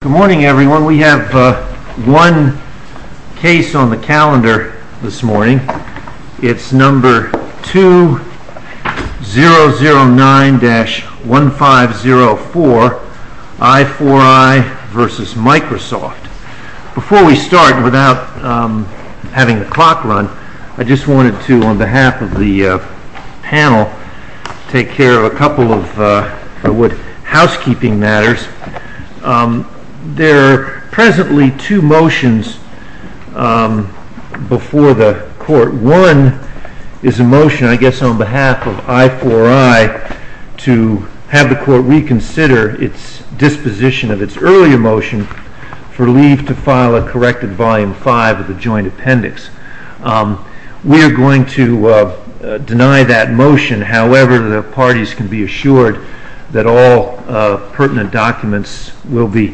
Good morning, everyone. We have one case on the calendar this morning. It's number 2009-1504, I4I v. Microsoft. Before we start, without having a clock run, I just wanted to, on behalf of the panel, take care of a couple of housekeeping matters. There are presently two motions before the court. One is a motion, I guess, on behalf of I4I to have the court reconsider its disposition of its earlier motion for leave to file a corrected Volume 5 of the Joint Appendix. We are going to deny that motion. However, the parties can be assured that all pertinent documents will be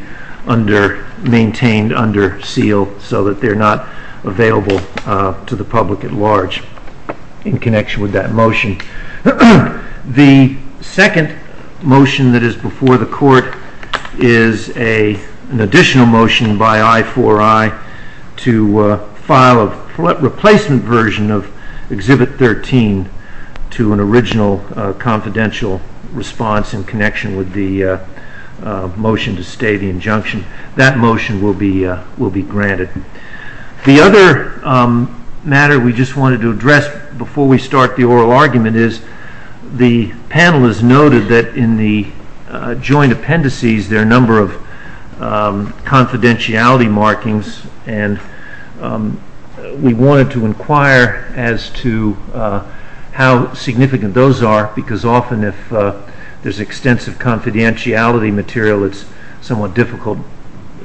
maintained under seal so that they're not available to the public at large in connection with that motion. The second motion that is before the court is an additional motion by I4I to file a replacement version of Exhibit 13 to an original confidential response in connection with the motion to stay the injunction. That motion will be granted. The other matter we just wanted to address before we start the oral argument is the panel has noted that in the joint appendices there are a number of confidentiality markings and we wanted to inquire as to how significant those are because often if there's extensive confidentiality material it's somewhat difficult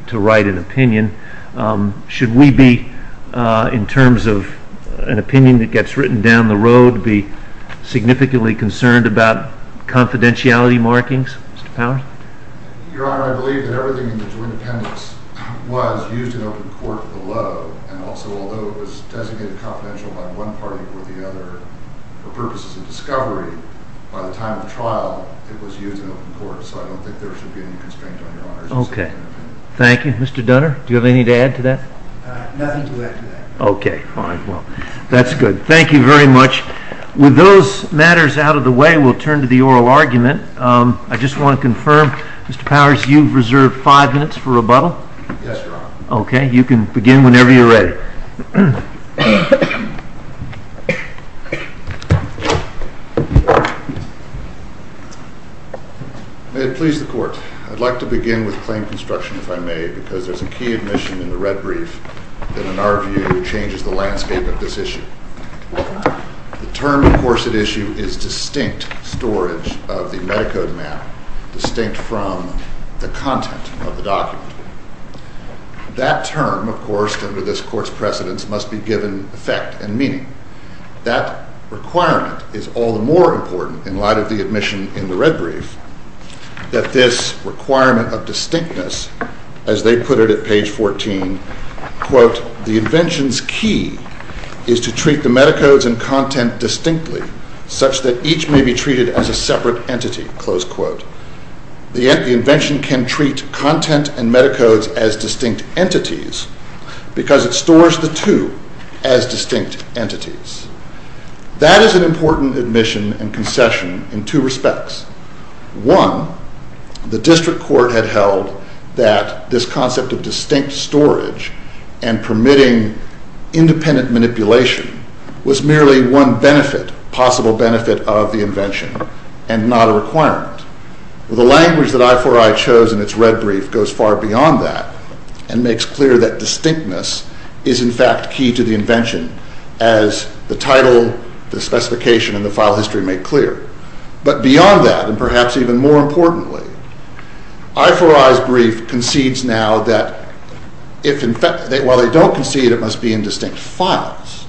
to write an opinion. Should we be, in terms of an opinion that gets written down the road, be significantly concerned about confidentiality markings, Mr. Powers? Your Honor, I believe that everything in the joint appendix was used in open court below and also although it was designated confidential by one party it would be, I believe, for purposes of discovery, by the time of trial, it was used in open court so I don't think there should be any constraint on your honor's decision. Thank you. Mr. Dunner, do you have anything to add to that? Nothing to add to that. Okay, fine. Well, that's good. Thank you very much. With those matters out of the way, we'll turn to the oral argument. I just want to confirm, Mr. Powers, you've reserved five minutes for rebuttal? Yes, Your Honor. Okay, you can begin whenever you're ready. May it please the Court, I'd like to begin with plain construction if I may because there's a key admission in the red brief that in our view changes the landscape of this issue. The term, of course, at issue is distinct storage of the AmeriCorps map, distinct from the content of the document. That term, of course, under this Court's precedence, must be given effect and meaning. That requirement is all the more important in light of the admission in the red brief that this requirement of distinctness, as they put it at page 14, quote, the invention's key is to treat the metacodes and content distinctly such that each may be treated as a separate entity, close quote. The invention can treat content and metacodes as distinct entities because it stores the two as distinct entities. That is an important admission and concession in two respects. One, the district court had held that this concept of distinct storage and permitting independent manipulation was merely one benefit, possible benefit of the invention and not a requirement. The language that I4I chose in its red brief goes far beyond that and makes clear that distinctness is in fact key to the invention as the title, the specification, and the file history make clear. But beyond that, and perhaps even more importantly, I4I's brief concedes now that while they don't concede it must be in distinct files.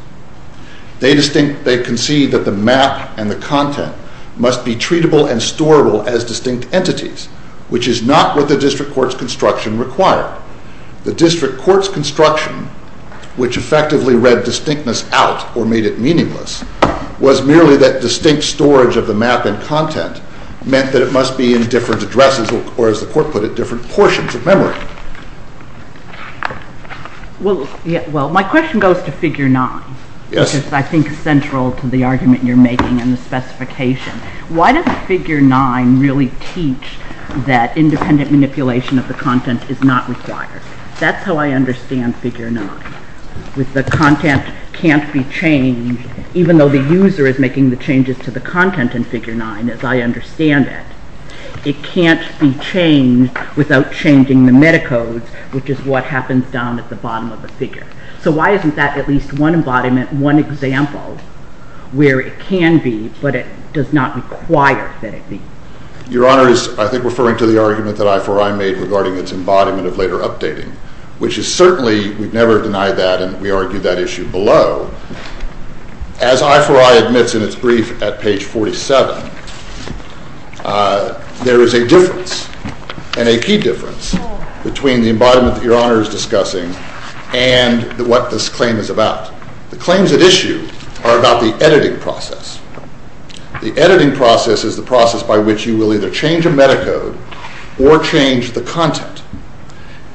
They concede that the math and the content must be treatable and storable as distinct entities, which is not what the district court's construction required. The district court's construction, which effectively read distinctness out or made it meaningless, was merely that distinct storage of the math and content meant that it must be in different addresses or, as the court put it, different portions of memory. Well, my question goes to Figure 9, which is, I think, central to the argument you're making in the specification. Why does Figure 9 really teach that independent manipulation of the content is not required? That's how I understand Figure 9, with the content can't be changed, even though the user is making the changes to the content in Figure 9, as I understand it. It can't be changed without changing the metacodes, which is what happens down at the bottom of the figure. So why isn't that at least one embodiment, one example, where it can be but it does not require that it be? Your Honor is, I think, referring to the argument that I4I made regarding its embodiment of later updating, which is certainly, we'd never deny that, and we argue that issue below. As I4I admits in its brief at page 47, there is a difference, and a key difference, between the embodiment that Your Honor is discussing and what this claim is about. The claims at issue are about the editing process. The editing process is the process by which you will either change a metacode or change the content,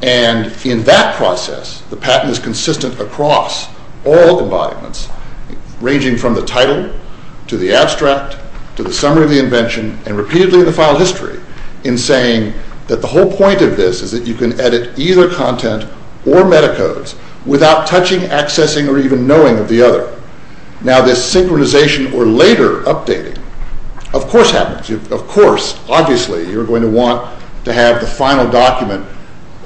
and in that process, the pattern is consistent across all embodiments, ranging from the title, to the abstract, to the summary of the invention, and repeatedly in the file history, in saying that the whole point of this is that you can edit either content or metacodes without touching, accessing, or even knowing the other. Now, this synchronization or later updating, of course happens. Of course, obviously, you're going to want to have the final document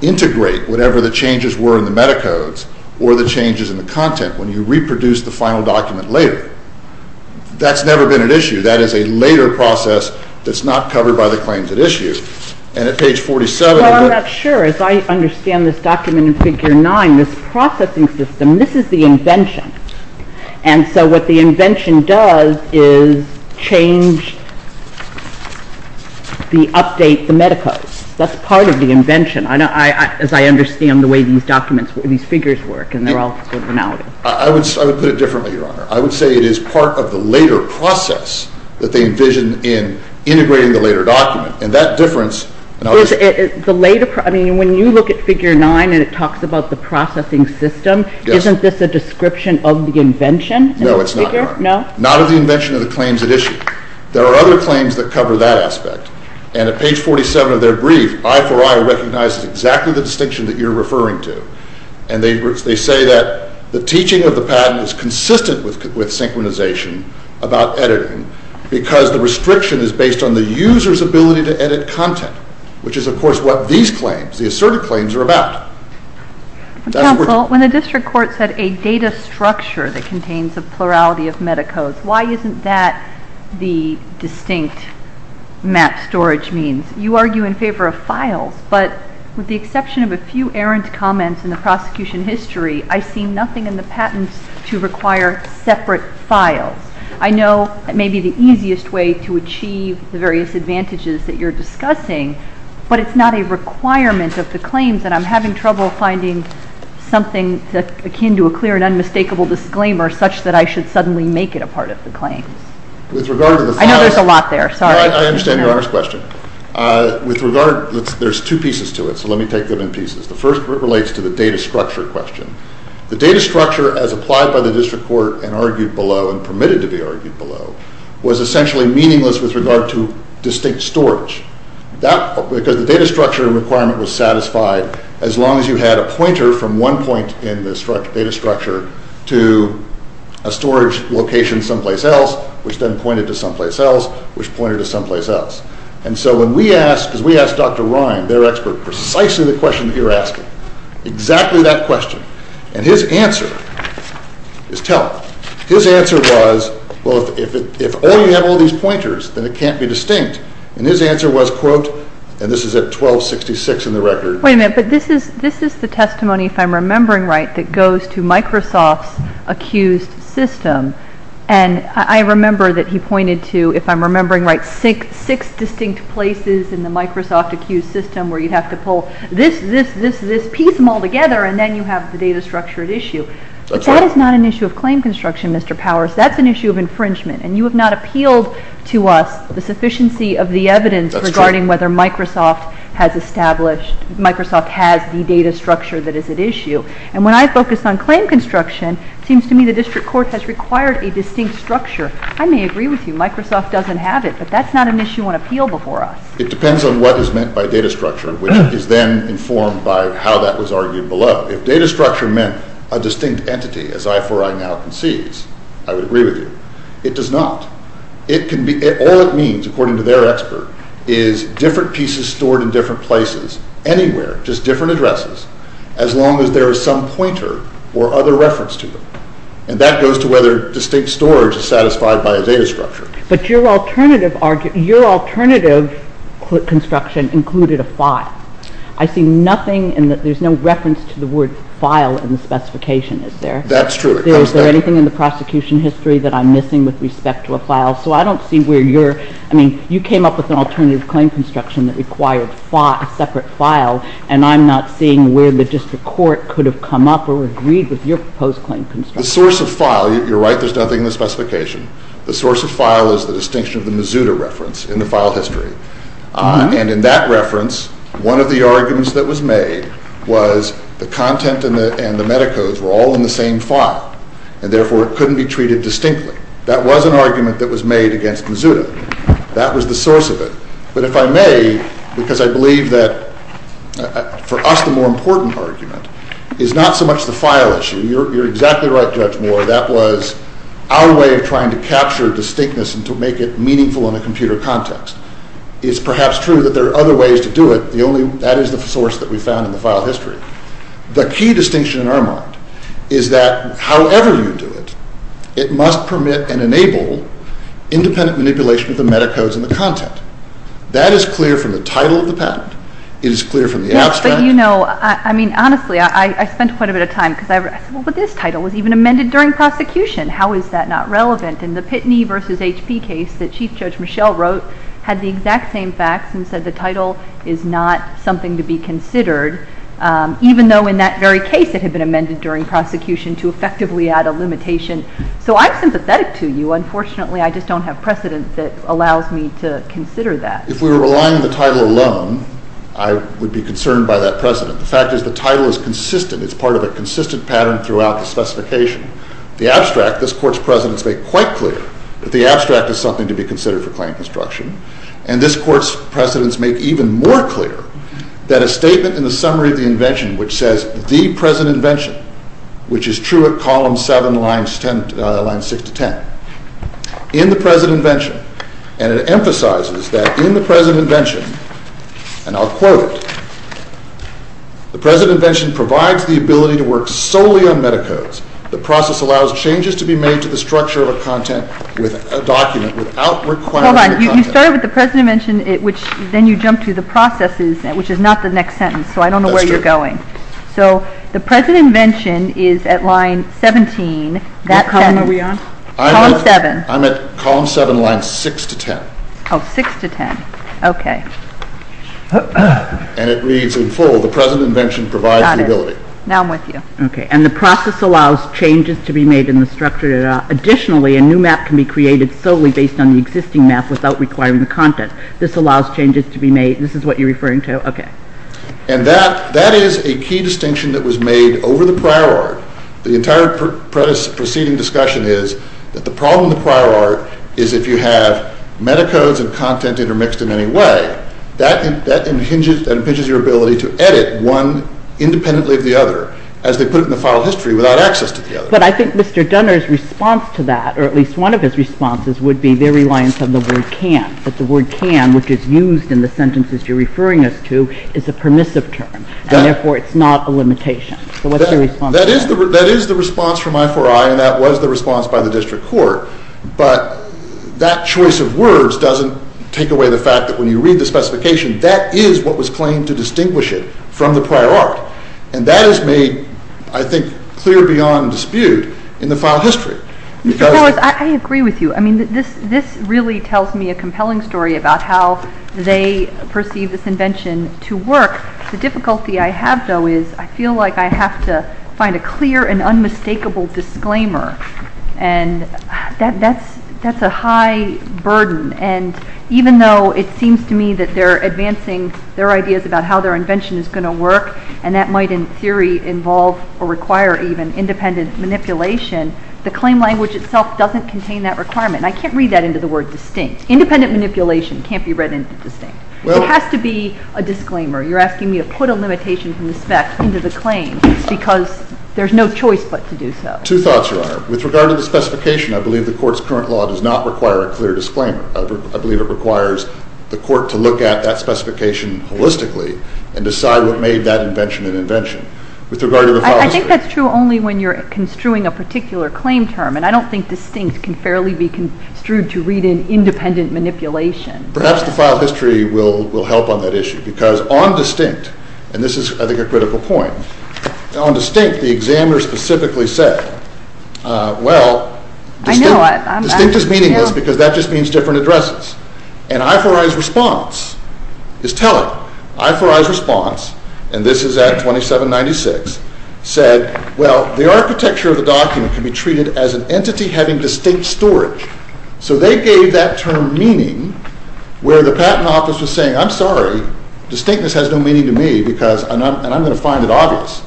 integrate whatever the changes were in the metacodes or the changes in the content, when you reproduce the final document later. That's never been an issue. That is a later process that's not covered by the claims at issue. And at page 47... Well, I'm not sure. As I understand this document in Figure 9, this processing system, this is the invention, and so what the invention does is change the update, the metacodes. That's part of the invention. As I understand the way these documents, these figures work, and they're all differentalities. I would put it differently, Your Honor. I would say it is part of the later process that they envision in integrating the later document. And that difference... The later process, I mean, when you look at Figure 9 and it talks about the processing system, isn't this a description of the invention? No, it's not. Not of the invention of the claims at issue. There are other claims that cover that aspect. And at page 47 of their brief, I4I recognized exactly the distinction that you're referring to. And they say that the teaching of the patent is consistent with synchronization about editing because the restriction is based on the user's ability to edit content, which is, of course, what these claims, the asserted claims, are about. When the district court said a data structure that contains the plurality of metacodes, why isn't that the distinct mat storage means? You argue in favor of files, but with the exception of a few errant comments in the prosecution history, I see nothing in the patents to require separate files. I know it may be the easiest way to achieve the various advantages that you're discussing, but it's not a requirement of the claims that I'm having trouble finding something akin to a clear and unmistakable disclaimer such that I should suddenly make it a part of the claim. I know there's a lot there. Sorry. I understand your first question. There's two pieces to it, so let me take them in pieces. The first relates to the data structure question. The data structure, as applied by the district court and argued below and permitted to be argued below, was essentially meaningless with regard to distinct storage. Because the data structure requirement was satisfied as long as you had a pointer from one point in the data structure to a storage location someplace else, which then pointed to someplace else, which pointed to someplace else. And so when we asked Dr. Ryan, their expert, precisely the question you're asking, exactly that question, and his answer is telling. His answer was, quote, if all you have are these pointers, then it can't be distinct. And his answer was, quote, and this is at 1266 in the record. Wait a minute, but this is the testimony, if I'm remembering right, that goes to Microsoft's accused system. And I remember that he pointed to, if I'm remembering right, six distinct places in the Microsoft accused system where you have to pull this, this, this, this piece all together, and then you have the data structure at issue. But that is not an issue of claim construction, Mr. Powers. That's an issue of infringement, and you have not appealed to us the sufficiency of the evidence regarding whether Microsoft has established, Microsoft has the data structure that is at issue. And when I focus on claim construction, it seems to me the district court has required a distinct structure. I may agree with you, Microsoft doesn't have it, but that's not an issue on appeal before us. It depends on what is meant by data structure, which is then informed by how that was argued below. If data structure meant a distinct entity, as I for I now concede, I would agree with you. It does not. It can be, all it means, according to their expert, is different pieces stored in different places, anywhere, just different addresses, as long as there is some pointer or other reference to them. And that goes to whether distinct storage is satisfied by a data structure. But your alternative construction included a file. I see nothing in that, there's no reference to the word file in the specification, is there? That's true. Is there anything in the prosecution history that I'm missing with respect to a file? So I don't see where you're, I mean, you came up with an alternative claim construction that required a separate file, and I'm not seeing where logistic court could have come up or agreed with your proposed claim construction. The source of file, you're right, there's nothing in the specification. The source of file is a distinction of the Mazuda reference in the file history. And in that reference, one of the arguments that was made was the content and the metacodes were all in the same file, and therefore couldn't be treated distinctly. That was an argument that was made against Mazuda. That was the source of it. But if I may, because I believe that for us the more important argument is not so much the file issue. You're exactly right, Judge Moore, that was our way of trying to capture distinctness and to make it meaningful in a computer context. It's perhaps true that there are other ways to do it, that isn't the source that we found in the file history. The key distinction in our mind is that however you do it, it must permit and enable independent manipulation of the metacodes and the content. That is clear from the title of the patent. It is clear from the abstract. But you know, I mean, honestly, I spent quite a bit of time, because I said, well, but this title was even amended during prosecution. How is that not relevant? And the Pitney v. H.C. case that Chief Judge Michelle wrote had the exact same facts and said the title is not something to be considered, even though in that very case it had been amended during prosecution to effectively add a limitation. So I'm sympathetic to you. Unfortunately, I just don't have precedent that allows me to consider that. If we were relying on the title alone, I would be concerned by that precedent. The fact is the title is consistent. It's part of a consistent pattern throughout the specification. The abstract, this Court's precedents make quite clear that the abstract is something to be considered for claim construction. And this Court's precedents make even more clear that a statement in the summary of the invention which says the present invention, which is true at column 7, line 6 to 10. In the present invention, and it emphasizes that in the present invention, and I'll quote, the present invention provides the ability to work solely on metacodes. The process allows changes to be made to the structure of a content, with a document without requiring content. Hold on. You started with the present invention, which then you jump to the processes, which is not the next sentence. So I don't know where you're going. So the present invention is at line 17. What column are we on? Column 7. I'm at column 7, line 6 to 10. Oh, 6 to 10. Okay. And it reads in full, the present invention provides the ability. Got it. Now I'm with you. Okay. And the process allows changes to be made in the structure. Additionally, a new map can be created solely based on the existing map without requiring the content. This allows changes to be made. This is what you're referring to? Okay. And that is a key distinction that was made over the prior art. The entire preceding discussion is that the problem with prior art is if you have metacodes of content intermixed in any way, that impinges your ability to edit one independently of the other, as they put it in the file history, without access to the other. But I think Mr. Dunner's response to that, or at least one of his responses, would be very reliant on the word can. Because the word can, which is used in the sentences you're referring us to, is a permissive term. Therefore, it's not a limitation. So what's your response? That is the response from I4I, and that was the response by the district court. But that choice of words doesn't take away the fact that when you read the specification, that is what was claimed to distinguish it from the prior art. And that is made, I think, clear beyond dispute in the file history. I agree with you. I mean, this really tells me a compelling story about how they perceive this invention to work. The difficulty I have, though, is I feel like I have to find a clear and unmistakable disclaimer. And that's a high burden. And even though it seems to me that they're advancing their ideas about how their invention is going to work, and that might in theory involve or require even independent manipulation, the claim language itself doesn't contain that requirement. And I can't read that into the word distinct. Independent manipulation can't be read into distinct. It has to be a disclaimer. You're asking me to put a limitation to inspect into the claim because there's no choice but to do so. Two thoughts, Your Honor. With regard to the specification, I believe the court's current law does not require a clear disclaimer. and decide what made that invention an invention. I think that's true only when you're construing a particular claim term. And I don't think distinct can fairly be construed to read in independent manipulation. Perhaps the file history will help on that issue. Because on distinct, and this is, I think, a critical point, on distinct, the examiner specifically said, well, distinct is meaningless because that just means different addresses. And I4I's response is telling. I4I's response, and this is at 2796, said, well, the architecture of the document can be treated as an entity having distinct storage. So they gave that term meaning where the patent office was saying, I'm sorry, distinctness has no meaning to me because, and I'm going to find it obvious.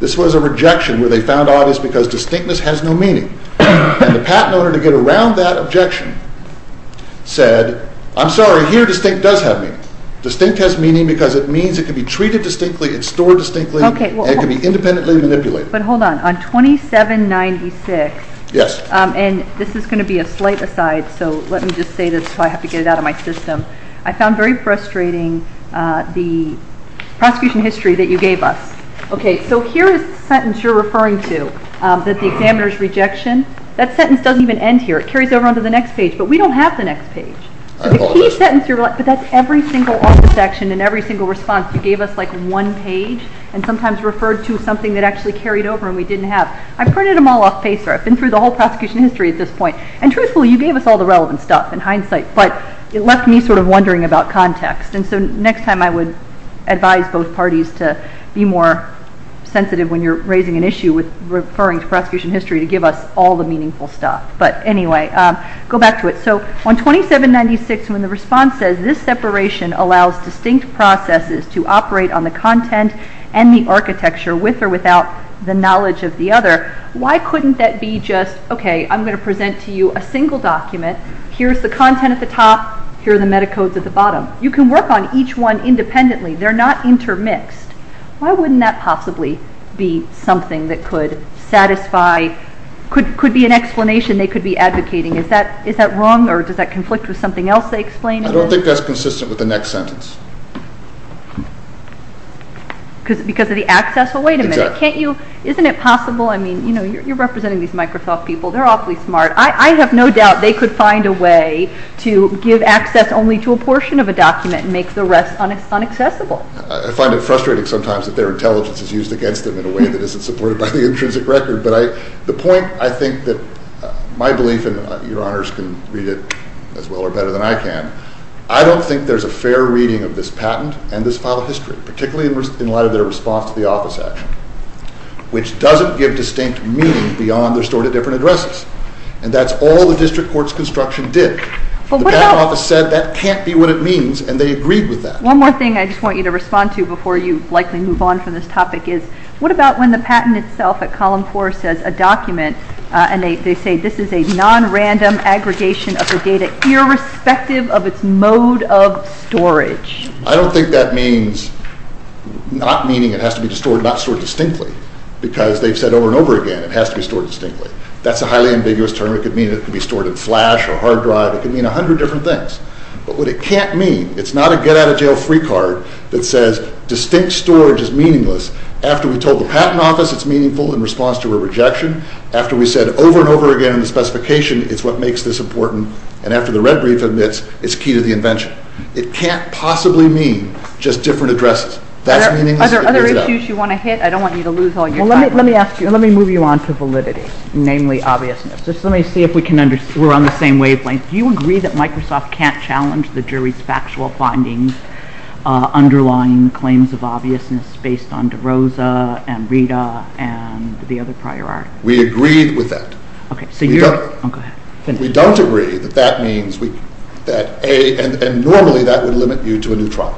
This was a rejection where they found obvious because distinctness has no meaning. And the patent owner, to get around that objection, said, I'm sorry, here distinct does have meaning. Distinct has meaning because it means it can be treated distinctly and stored distinctly and can be independently manipulated. But hold on. On 2796, and this is going to be a slight aside, so let me just say this until I have to get it out of my system. I found very frustrating the prosecution history that you gave us. Okay, so here is the sentence you're referring to, that the examiner's rejection. That sentence doesn't even end here. It carries over onto the next page. But we don't have the next page. So the key sentence, that's every single office action and every single response. You gave us like one page and sometimes referred to something that actually carried over and we didn't have. I printed them all off paper. I've been through the whole prosecution history at this point. And truthfully, you gave us all the relevant stuff and hindsight, but it left me sort of wondering about context. And so next time I would advise both parties to be more sensitive when you're raising an issue with referring to prosecution history to give us all the meaningful stuff. But anyway, go back to it. So on 2796 when the response says this separation allows distinct processes to operate on the content and the architecture with or without the knowledge of the other, why couldn't that be just, okay, I'm going to present to you a single document. Here's the content at the top. Here are the metacodes at the bottom. You can work on each one independently. They're not intermixed. Why wouldn't that possibly be something that could satisfy, could be an explanation they could be advocating? Is that wrong or does that conflict with something else they explained? I don't think that's consistent with the next sentence. Because of the access? Well, wait a minute. Isn't it possible? I mean, you're representing these Microsoft people. They're awfully smart. I have no doubt they could find a way to give access only to a portion of a document and make the rest unaccessible. I find it frustrating sometimes that their intelligence is used against them in a way that isn't supported by the intrinsic record. But the point I think that my belief, and your honors can read it as well or better than I can, I don't think there's a fair reading of this patent and this file of history, particularly in light of their response to the office action, which doesn't give distinct meaning beyond their sort of different addresses. And that's all the district court's construction did. The best office said that can't be what it means, and they agreed with that. One more thing I just want you to respond to before you likely move on from this topic is what about when the patent itself at column four says a document and they say this is a non-random aggregation of the data irrespective of its mode of storage? I don't think that means not meaning it has to be stored not sort of distinctly because they've said over and over again it has to be stored distinctly. That's a highly ambiguous term. It could mean it can be stored in flash or hard drive. It could mean a hundred different things. But what it can't mean, it's not a get out of jail free card that says distinct storage is meaningless. After we told the patent office it's meaningful in response to a rejection, after we said over and over again in the specification it's what makes this important, and after the red brief admits it's key to the invention. It can't possibly mean just different addresses. Other issues you want to hit? I don't want you to lose all your time. Let me move you on to validity, namely obviousness. Let me see if we're on the same wavelength. Do you agree that Microsoft can't challenge the jury's factual findings underlying claims of obviousness based on DeRosa and Rita and the other prior art? We agree with that. Okay. We don't agree that that means that A, and normally that would limit you to a new trial,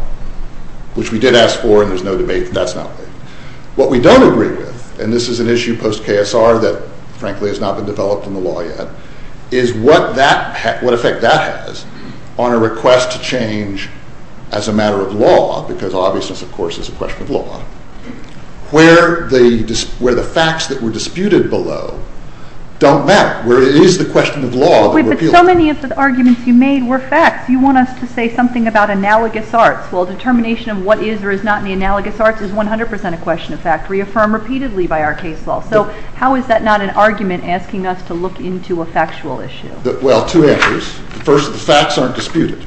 which we did ask for and there's no debate, but that's not it. What we don't agree with, and this is an issue post-KSR that, frankly, has not been developed from the law yet, is what effect that has on a request to change as a matter of law, because obviousness, of course, is a question of law, where the facts that were disputed below don't matter, where it is a question of law. Wait, but so many of the arguments you made were facts. You want us to say something about analogous arts. Well, determination of what is or is not in the analogous arts is 100% a question of fact. We affirm repeatedly by our case law. So how is that not an argument asking us to look into a factual issue? Well, two things. First, the facts aren't disputed.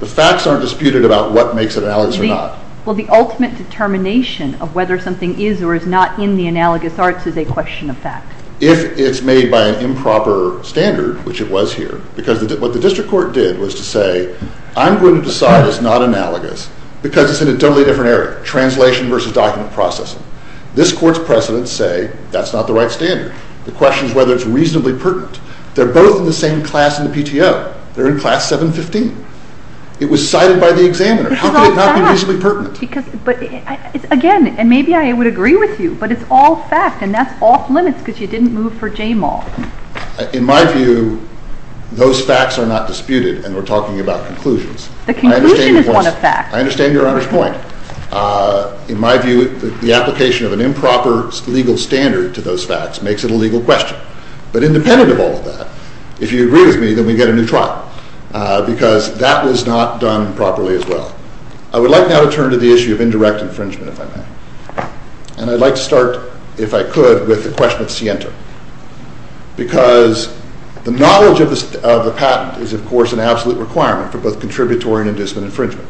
The facts aren't disputed about what makes it analogous or not. Well, the ultimate determination of whether something is or is not in the analogous arts is a question of fact. If it's made by an improper standard, which it was here, because what the district court did was to say, I'm going to decide it's not analogous because it's in a totally different area, translation versus document processing. This court's precedents say that's not the right standard. The question is whether it's reasonably pertinent. They're both in the same class in the PTO. They're in class 715. It was cited by the examiner. How could it not be reasonably pertinent? But again, and maybe I would agree with you, but it's all fact, and that's off limits because you didn't move for Jamal. In my view, those facts are not disputed, and we're talking about conclusions. The conclusion is not a fact. I understand your honest point. In my view, the application of an improper legal standard to those facts makes it a legal question. But independent of all of that, if you agree with me, then we get a new trial because that was not done properly as well. I would like now to turn to the issue of indirect infringement, if I may, and I'd like to start, if I could, with the question of Sienta because the knowledge of a patent is, of course, an absolute requirement for both contributory and indiscipline infringement.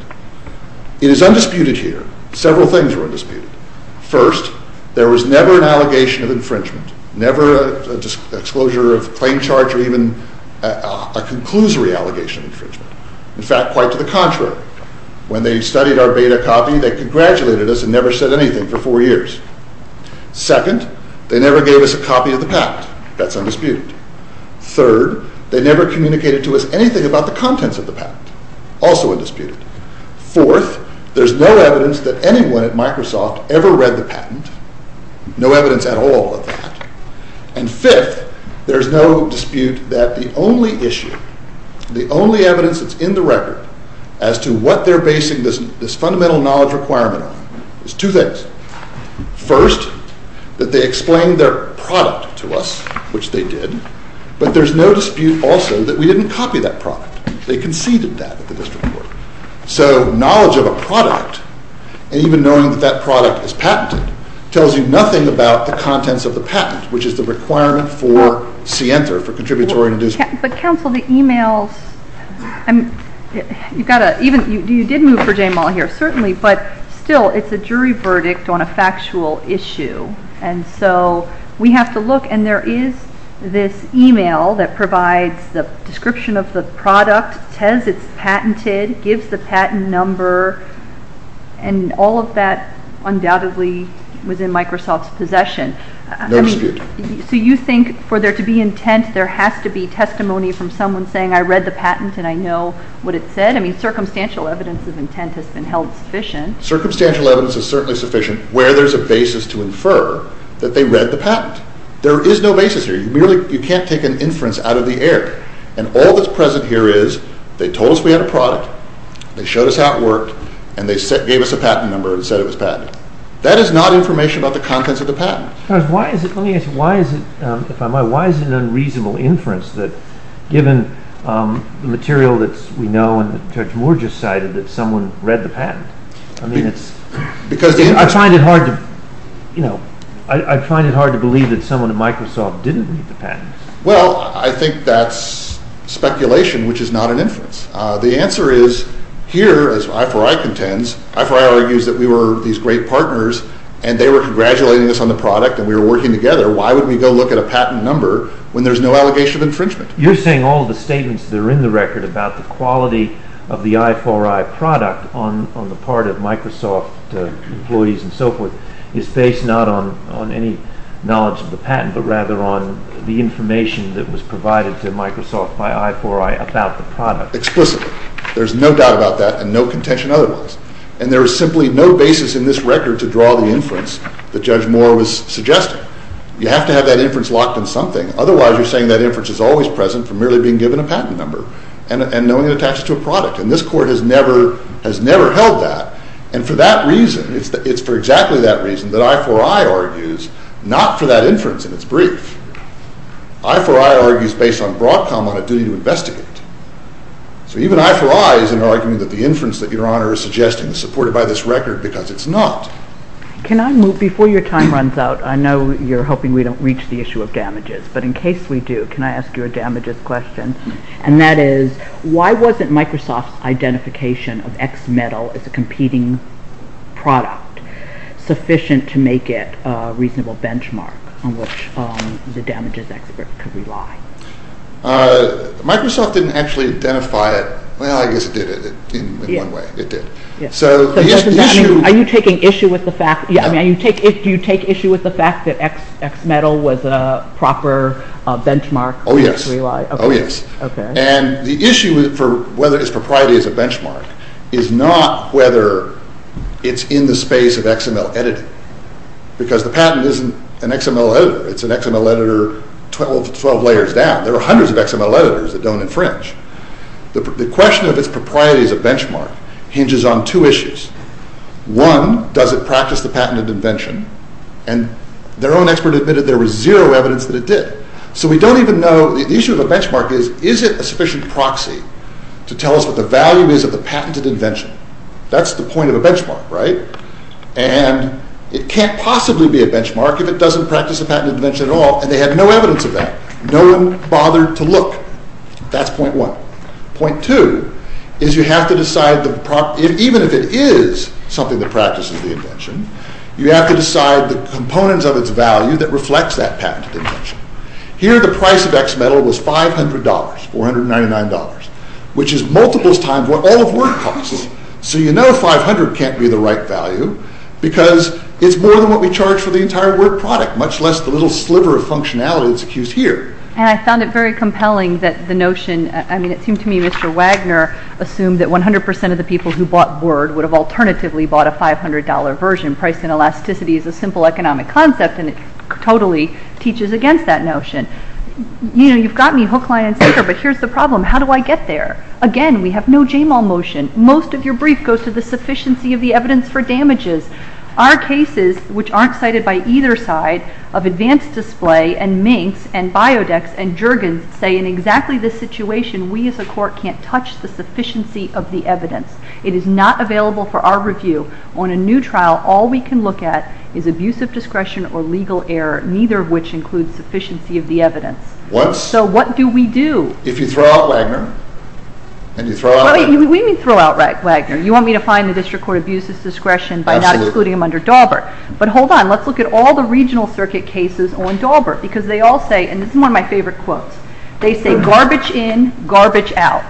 It is undisputed here. Several things were disputed. First, there was never an allegation of infringement, never an exposure of claim charge or even a conclusory allegation of infringement. In fact, quite to the contrary. When they studied our beta copy, they congratulated us and never said anything for four years. Second, they never gave us a copy of the patent. That's undisputed. Third, they never communicated to us anything about the contents of the patent. Also undisputed. Fourth, there's no evidence that anyone at Microsoft ever read the patent, no evidence at all of that. And fifth, there's no dispute that the only issue, the only evidence that's in the record as to what they're basing this fundamental knowledge requirement on, is two things. First, that they explained their product to us, which they did, but there's no dispute also that we didn't copy that product. They conceded that. So the knowledge of a product, and even knowing that that product is patented, tells you nothing about the contents of the patent, which is the requirement for SIEMSA, for Contributory Induction. But counsel, the e-mail, and you did move for Jaymall here, certainly, but still, it's a jury verdict on a factual issue, and so we have to look, and there is this e-mail that provides the description of the product, says it's patented, gives the patent number, and all of that, undoubtedly, was in Microsoft's possession. No dispute. So you think for there to be intent, there has to be testimony from someone saying, I read the patent and I know what it said? I mean, circumstantial evidence of intent has been held sufficient. Circumstantial evidence is certainly sufficient where there's a basis to infer that they read the patent. There is no basis here. You can't take an inference out of the air. And all that's present here is they told us we had a product, they showed us how it worked, and they gave us a patent number and said it was patented. That is not information about the contents of the patent. Charles, why is it unreasonable inference that given the material that we know, and Judge Moore just cited, that someone read the patent? I mean, I find it hard to believe that someone at Microsoft didn't read the patent. Well, I think that's speculation, which is not an inference. The answer is here, as I4I contends, I4I argues that we were these great partners and they were congratulating us on the product and we were working together. Why would we go look at a patent number when there's no allegation of infringement? You're saying all the statements that are in the record about the quality of the I4I product on the part of Microsoft employees and so forth is based not on any knowledge of the patent, but rather on the information that was provided to Microsoft by I4I about the product. Explicitly. There's no doubt about that and no contention otherwise. And there is simply no basis in this record to draw the inference that Judge Moore was suggesting. You have to have that inference locked in something. Otherwise, you're saying that inference is always present from merely being given a patent number and knowing it attaches to a product. And this Court has never held that. And for that reason, it's for exactly that reason that I4I argues not for that inference in its briefs. I4I argues based on broad comment of duty to investigate. So even I4I isn't arguing that the inference that Your Honor is suggesting is supported by this record because it's not. Before your time runs out, I know you're hoping we don't reach the issue of damages, but in case we do, can I ask you a damages question? And that is, why wasn't Microsoft's identification of X metal as a competing product sufficient to make it a reasonable benchmark on which the damages expert could rely? Microsoft didn't actually identify it. Well, I guess it did in one way. It did. Are you taking issue with the fact that X metal was a proper benchmark? Oh, yes. And the issue for whether this propriety is a benchmark is not whether it's in the space of X metal editing. Because the patent isn't an X metal editor. It's an X metal editor 12 layers down. There are hundreds of X metal editors that don't infringe. The question of its propriety as a benchmark hinges on two issues. One, does it practice the patent of invention? And their own expert admitted there was zero evidence that it did. So we don't even know, the issue of the benchmark is, is it a sufficient proxy to tell us what the value is of a patent of invention? That's the point of a benchmark, right? And it can't possibly be a benchmark if it doesn't practice a patent of invention at all, and they have no evidence of that. No one bothered to look. That's point one. Point two is you have to decide, even if it is something that practices the invention, you have to decide the components of its value that reflect that patent of invention. Here the price of X metal was $500, $499, which is multiples times what all of Word costs. So you know $500 can't be the right value because it's more than what we charge for the entire Word product, much less the little sliver of functionality that's used here. And I found it very compelling that the notion, I mean it seemed to me Mr. Wagner assumed that 100% of the people who bought Word would have alternatively bought a $500 version. Price and elasticity is a simple economic concept, and it totally teaches against that notion. You know, you've got me hook, line, and sinker, but here's the problem. How do I get there? Again, we have no JML motion. Most of your brief goes to the sufficiency of the evidence for damages. Our cases, which aren't cited by either side, of Advanced Display and Mace and Biodex and Juergens say in exactly this situation, we as a court can't touch the sufficiency of the evidence. It is not available for our review. On a new trial, all we can look at is abusive discretion or legal error, neither of which includes sufficiency of the evidence. So what do we do? If you throw out Wagner, and you throw out Wagner. We didn't throw out Wagner. You want me to find the district court abusive discretion by not including him under Dauber. But hold on, let's look at all the regional circuit cases on Dauber because they all say, and this is one of my favorite quotes, they say garbage in, garbage out,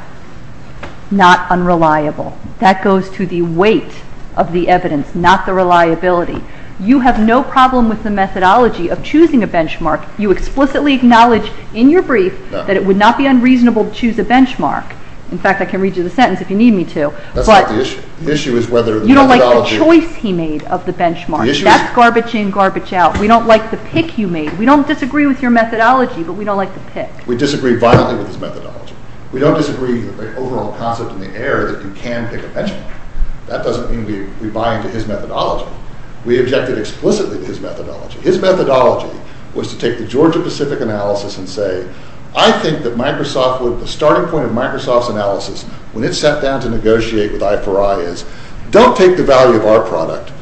not unreliable. That goes to the weight of the evidence, not the reliability. You have no problem with the methodology of choosing a benchmark. You explicitly acknowledge in your brief that it would not be unreasonable to choose a benchmark. In fact, I can read you the sentence if you need me to. You don't like the choice he made of the benchmark. That's garbage in, garbage out. We don't like the pick you made. We don't disagree with your methodology, but we don't like the pick. We disagree violently with his methodology. We don't disagree with the overall concept and the error that you can pick a benchmark. That doesn't mean we buy into his methodology. We objected explicitly to his methodology. His methodology was to take the Georgia-Pacific analysis and say, I think that the starting point of Microsoft's analysis when it sat down to negotiate with I4I is, don't take the value of our product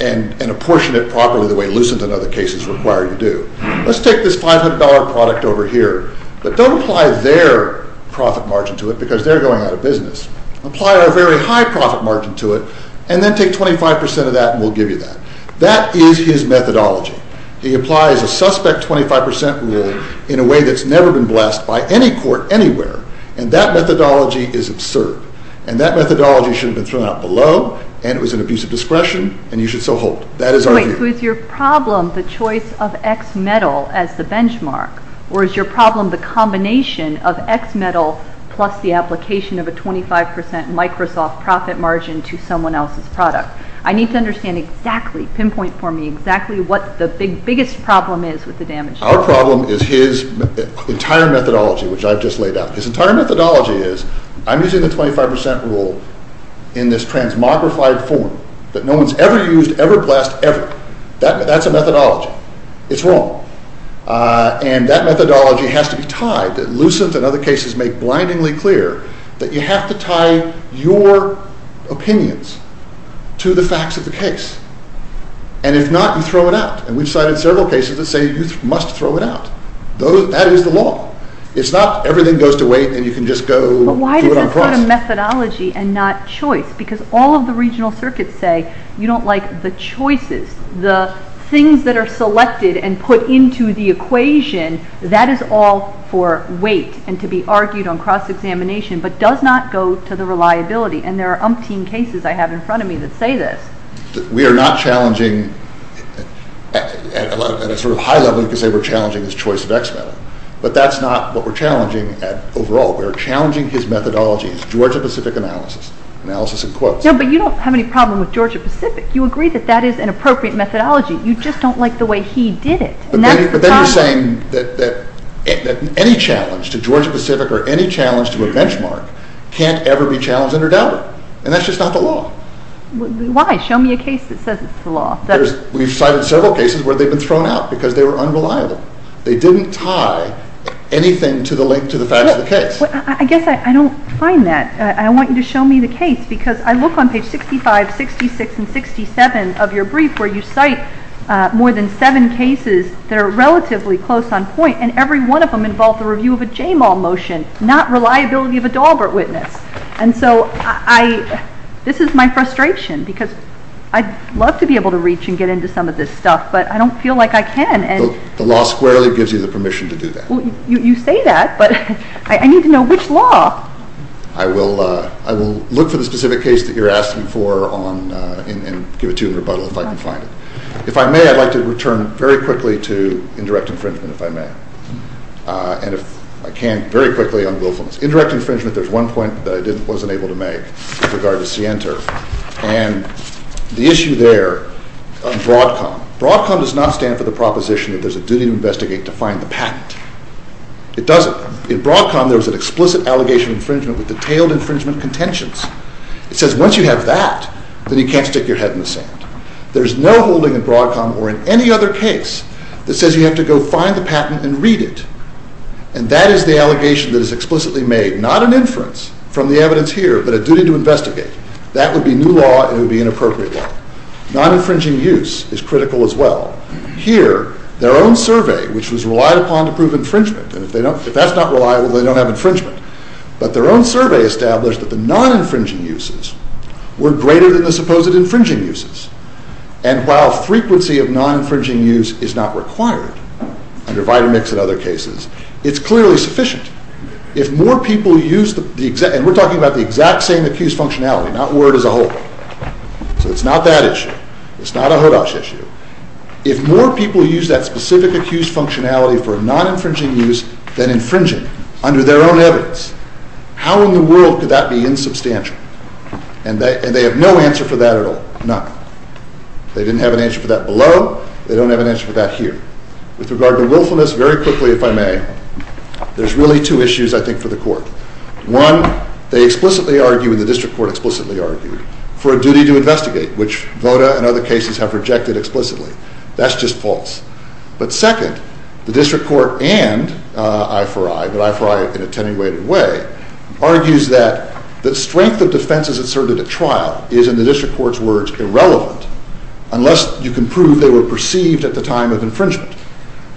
and apportion it properly the way Lucent and other cases require you do. Let's take this $500 product over here, but don't apply their profit margin to it because they're going out of business. Apply our very high profit margin to it, and then take 25% of that and we'll give you that. That is his methodology. He applies a suspect 25% rule in a way that's never been blessed by any court anywhere, and that methodology is absurd. And that methodology should have been thrown out below, and it was in a piece of discretion, and you should still hold it. That is our view. Wait, so is your problem the choice of X metal as the benchmark, or is your problem the combination of X metal plus the application of a 25% Microsoft profit margin to someone else's product? I need to understand exactly, pinpoint for me exactly what the biggest problem is with the damage. Our problem is his entire methodology, which I just laid out. His entire methodology is, I'm using the 25% rule in this transmogrified form, but no one's ever used, ever blessed, ever. That's a methodology. It's wrong. And that methodology has to be tied. Lucent and other cases make blindingly clear that you have to tie your opinions to the facts of the case. And if not, you throw it out. And we've cited several cases that say you must throw it out. That is the law. It's not everything goes to waste and you can just go do it on a price. But why is it called a methodology and not choice? Because all of the regional circuits say you don't like the choices, the things that are selected and put into the equation. That is all for weight and to be argued on cross-examination, but does not go to the reliability. And there are umpteen cases I have in front of me that say this. We are not challenging at a sort of high level because they were challenging his choice of X method. But that's not what we're challenging at overall. We're challenging his methodology, his Georgia-Pacific analysis, analysis in quotes. Yeah, but you don't have any problem with Georgia-Pacific. You agree that that is an appropriate methodology. You just don't like the way he did it. But then you're saying that any challenge to Georgia-Pacific or any challenge to a benchmark can't ever be challenged or doubted. And that's just not the law. Why? Show me a case that says it's the law. We've cited several cases where they've been thrown out because they were unreliable. They didn't tie anything to the link to the fact of the case. I guess I don't find that. I want you to show me the case because I look on page 65, 66, and 67 of your brief where you cite more than seven cases that are relatively close on point, and every one of them involves a review of a JMAL motion, not reliability of a Daubert witness. And so this is my frustration because I'd love to be able to reach and get into some of this stuff, but I don't feel like I can. The law squarely gives you the permission to do that. You say that, but I need to know which law. I will look for the specific case that you're asking for and give it to you in a rebuttal if I can find it. If I may, I'd like to return very quickly to indirect infringement, if I may. And if I can, very quickly, I'm willful. Indirect infringement, there's one point that I wasn't able to make with regard to Sienter. And the issue there on BROADCOM. BROADCOM does not stand for the proposition that there's a duty to investigate to find the patent. It doesn't. In BROADCOM, there's an explicit allegation of infringement with detailed infringement contentions. It says once you have that, then you can't stick your head in the sand. There's no holding in BROADCOM or in any other case that says you have to go find the patent and read it. And that is the allegation that is explicitly made, not an inference from the evidence here, but a duty to investigate. That would be new law and it would be inappropriate law. Non-infringing use is critical as well. Here, their own survey, which was relied upon to prove infringement. And if that's not reliable, they don't have infringement. But their own survey established that the non-infringing uses were greater than the supposed infringing uses. And while frequency of non-infringing use is not required, under Vitamix and other cases, it's clearly sufficient. If more people use the exact – and we're talking about the exact same accused functionality, not word as a whole. So it's not that issue. It's not a HODOPS issue. If more people use that specific accused functionality for non-infringing use than infringing under their own evidence, how in the world could that be insubstantial? And they have no answer for that at all, none. They didn't have an answer for that below. They don't have an answer for that here. With regard to willfulness, very quickly, if I may, there's really two issues, I think, for the court. One, they explicitly argue, the district court explicitly argued, for a duty to investigate, which Voda and other cases have rejected explicitly. That's just false. But second, the district court and I4I, but I4I in an attenuated way, argues that the strength of defenses that served at the trial is, in the district court's words, irrelevant unless you can prove they were perceived at the time of infringement.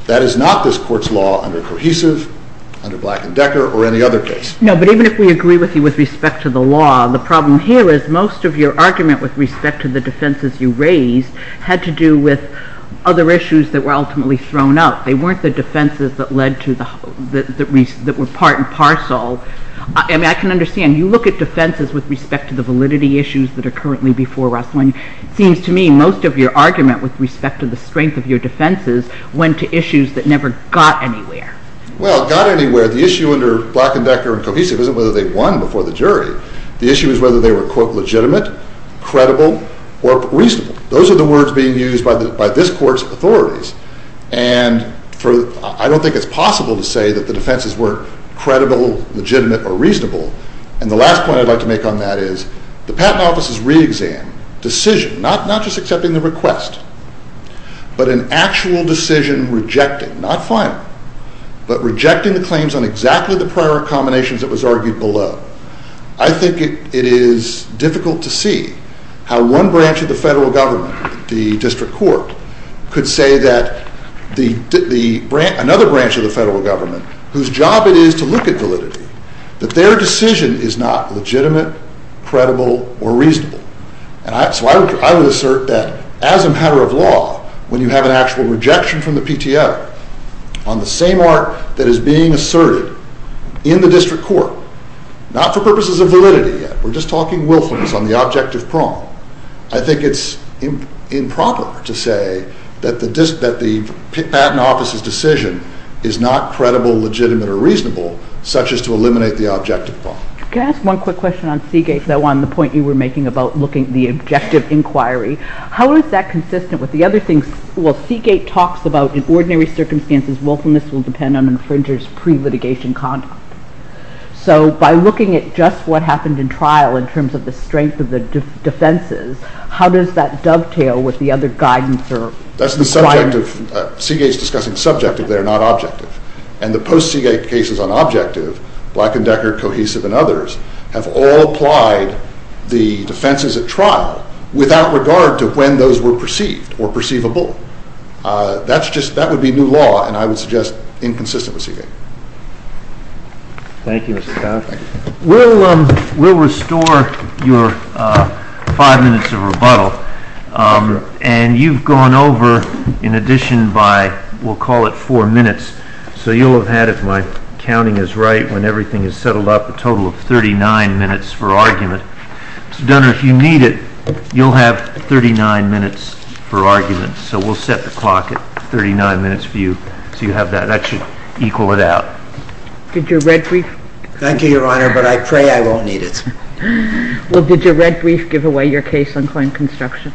That is not this court's law under Cohesive, under Black and Decker, or any other case. No, but even if we agree with you with respect to the law, the problem here is most of your argument with respect to the defenses you raise had to do with other issues that were ultimately thrown out. They weren't the defenses that were part and parcel. And I can understand. You look at defenses with respect to the validity issues that are currently before us. And it seems to me most of your argument with respect to the strength of your defenses went to issues that never got anywhere. Well, it got anywhere. The issue under Black and Decker and Cohesive isn't whether they won before the jury. The issue is whether they were, quote, legitimate, credible, or reasonable. Those are the words being used by this court's authorities. And I don't think it's possible to say that the defenses weren't credible, legitimate, or reasonable. And the last point I'd like to make on that is the Patent Office's re-exam decision, not just accepting the request, but an actual decision rejecting, not firing, but rejecting the claims on exactly the prior accommodations that was argued below, I think it is difficult to see how one branch of the federal government, the district court, could say that another branch of the federal government, whose job it is to look at validity, that their decision is not legitimate, credible, or reasonable. So I would assert that as a matter of law, when you have an actual rejection from the PTO on the same art that is being asserted in the district court, not for purposes of validity, we're just talking willfulness on the objective prong, I think it's improper to say that the Patent Office's decision is not credible, legitimate, or reasonable, such as to eliminate the objective prong. Can I ask one quick question on Seagate, on the point you were making about looking at the objective inquiry, how is that consistent with the other things, well Seagate talks about in ordinary circumstances willfulness will depend on infringers' pre-litigation conduct. So by looking at just what happened in trial in terms of the strength of the defenses, how does that dovetail with the other guidance? Seagate's discussing subjective, they're not objective. And the post-Seagate cases on objective, Black & Decker, Cohesive, and others, have all applied the defenses of trial without regard to when those were perceived or perceivable. That would be new law, and I would suggest inconsistent with Seagate. Thank you, Mr. Conner. We'll restore your five minutes of rebuttal, and you've gone over, in addition by, we'll call it four minutes, so you'll have had, if my counting is right, when everything is settled up, a total of 39 minutes for argument. So, Gunnar, if you need it, you'll have 39 minutes for argument. So we'll set the clock at 39 minutes for you, so you have that. That should equal it out. Thank you, Your Honor, but I pray I won't need it. Well, did your red brief give away your case on client construction?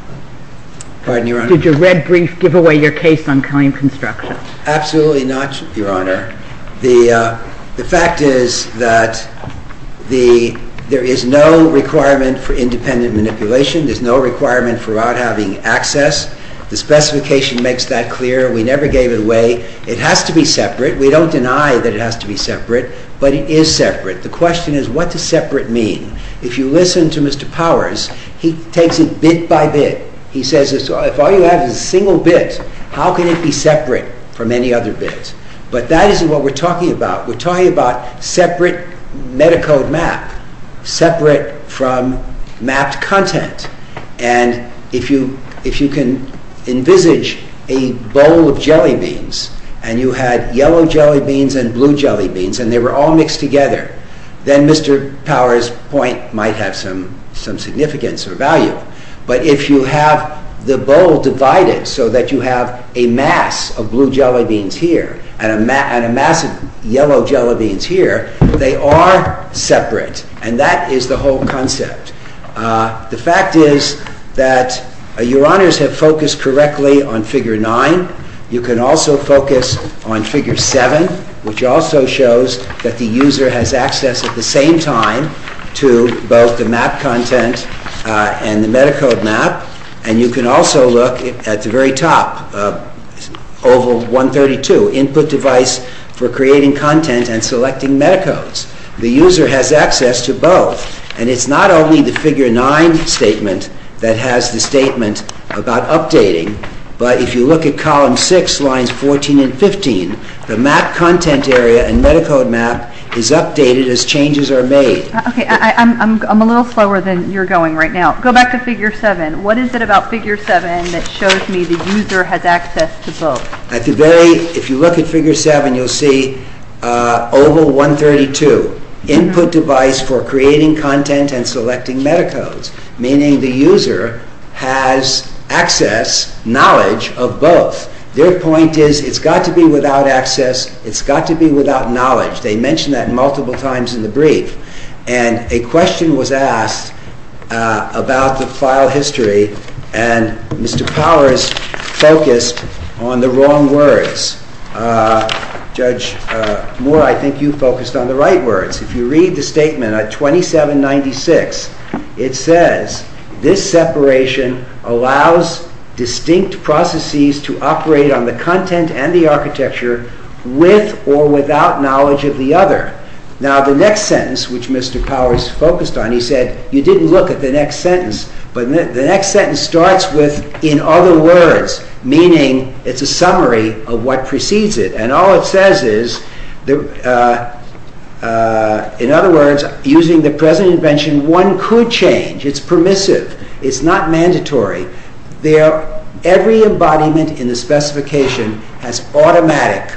Pardon, Your Honor? Did your red brief give away your case on client construction? Absolutely not, Your Honor. The fact is that there is no requirement for independent manipulation. There's no requirement for not having access. The specification makes that clear. We never gave it away. It has to be separate. We don't deny that it has to be separate, but it is separate. The question is, what does separate mean? If you listen to Mr. Powers, he takes it bit by bit. He says, if all you have is a single bit, how can it be separate from any other bits? But that isn't what we're talking about. We're talking about separate metacode math, separate from math content. And if you can envisage a bowl of jelly beans, and you had yellow jelly beans and blue jelly beans, and they were all mixed together, then Mr. Powers' point might have some significance or value. But if you have the bowl divided so that you have a mass of blue jelly beans here and a mass of yellow jelly beans here, they are separate. And that is the whole concept. The fact is that Your Honors have focused correctly on Figure 9. You can also focus on Figure 7, which also shows that the user has access at the same time to both the math content and the metacode math. And you can also look at the very top, Oval 132, Input Device for Creating Content and Selecting Metacodes. The user has access to both. And it's not only the Figure 9 statement that has the statement about updating, but if you look at Columns 6, Lines 14 and 15, the math content area and metacode math is updated as changes are made. Okay, I'm a little slower than you're going right now. Go back to Figure 7. What is it about Figure 7 that shows me the user has access to both? If you look at Figure 7, you'll see Oval 132, Input Device for Creating Content and Selecting Metacodes, meaning the user has access, knowledge of both. Their point is it's got to be without access. It's got to be without knowledge. They mention that multiple times in the brief. And a question was asked about the file history, and Mr. Powers focused on the wrong words. Judge Moore, I think you focused on the right words. If you read the statement at 2796, it says, This separation allows distinct processes to operate on the content and the architecture with or without knowledge of the other. Now, the next sentence, which Mr. Powers focused on, he said, you didn't look at the next sentence. But the next sentence starts with, in other words, meaning it's a summary of what precedes it. And all it says is, in other words, using the present invention, one could change. It's permissive. It's not mandatory. Every embodiment in the specification has automatic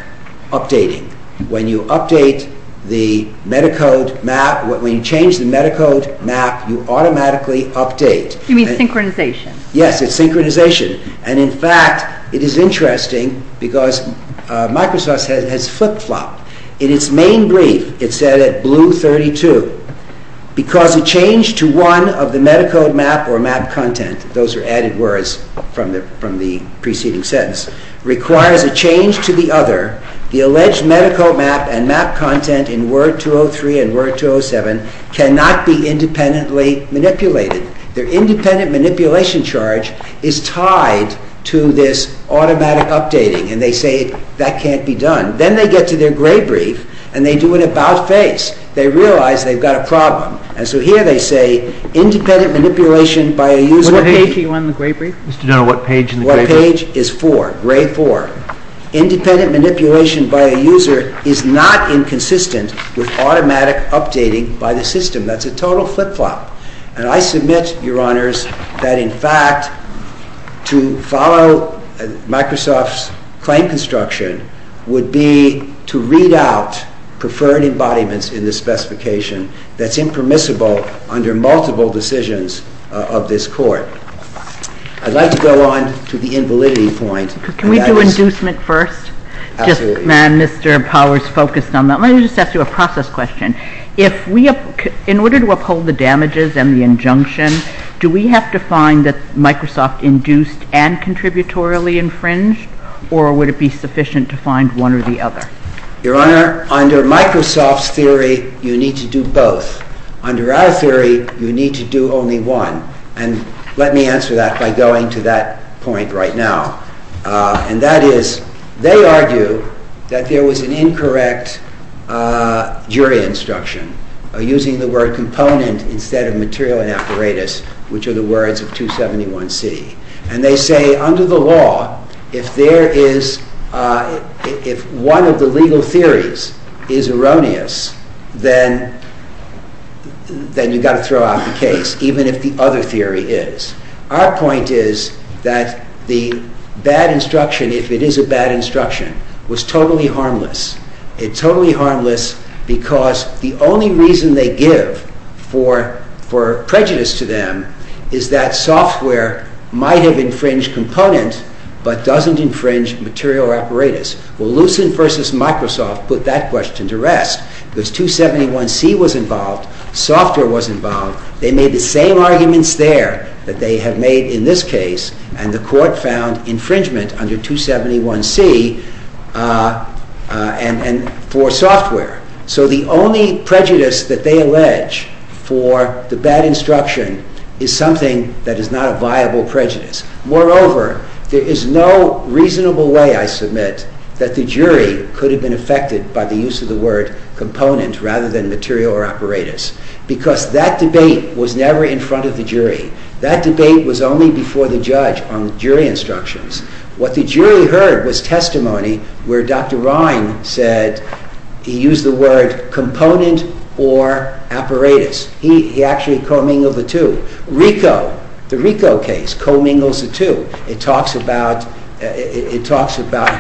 updating. When you update the metacode map, when you change the metacode map, you automatically update. You mean synchronization. Yes, it's synchronization. And in fact, it is interesting because Microsoft said it has flip-flopped. In its main brief, it said it blew 32. Because a change to one of the metacode map or map content, those are added words from the preceding sentence, requires a change to the other, the alleged metacode map and map content in Word 203 and Word 207 cannot be independently manipulated. Their independent manipulation charge is tied to this automatic updating. And they say, that can't be done. Then they get to their gray brief, and they do an about-face. They realize they've got a problem. And so here they say, independent manipulation by a user... What page do you want in the gray brief? No, what page in the gray brief. What page is four, gray four. Independent manipulation by a user is not inconsistent with automatic updating by the system. That's a total flip-flop. And I submit, Your Honors, that in fact, to follow Microsoft's claim construction would be to read out preferred embodiments in the specification that's impermissible under multiple decisions of this court. I'd like to go on to the invalidity point. Can we do inducement first? Just, ma'am, Mr. Powers focused on that. Let me just ask you a process question. In order to uphold the damages and the injunction, do we have to find that Microsoft induced and contributorily infringed? Or would it be sufficient to find one or the other? Your Honor, under Microsoft's theory, you need to do both. Under our theory, you need to do only one. And let me answer that by going to that point right now. And that is, they argue that there was an incorrect jury instruction, using the word component instead of material and apparatus, which are the words of 271C. And they say, under the law, if one of the legal theories is erroneous, then you've got to throw out the case, even if the other theory is. Our point is that the bad instruction, if it is a bad instruction, was totally harmless. It's totally harmless because the only reason they give for prejudice to them is that software might have infringed component, but doesn't infringe material apparatus. Well, Lucent versus Microsoft put that question to rest. Because 271C was involved, software was involved. They made the same arguments there that they have made in this case, and the court found infringement under 271C for software. So the only prejudice that they allege for the bad instruction is something that is not a viable prejudice. Moreover, there is no reasonable way, I submit, that the jury could have been affected by the use of the word component rather than material or apparatus. Because that debate was never in front of the jury. That debate was only before the judge on jury instructions. What the jury heard was testimony where Dr. Ryan said he used the word component or apparatus. He actually co-mingled the two. RICO, the RICO case, co-mingles the two. It talks about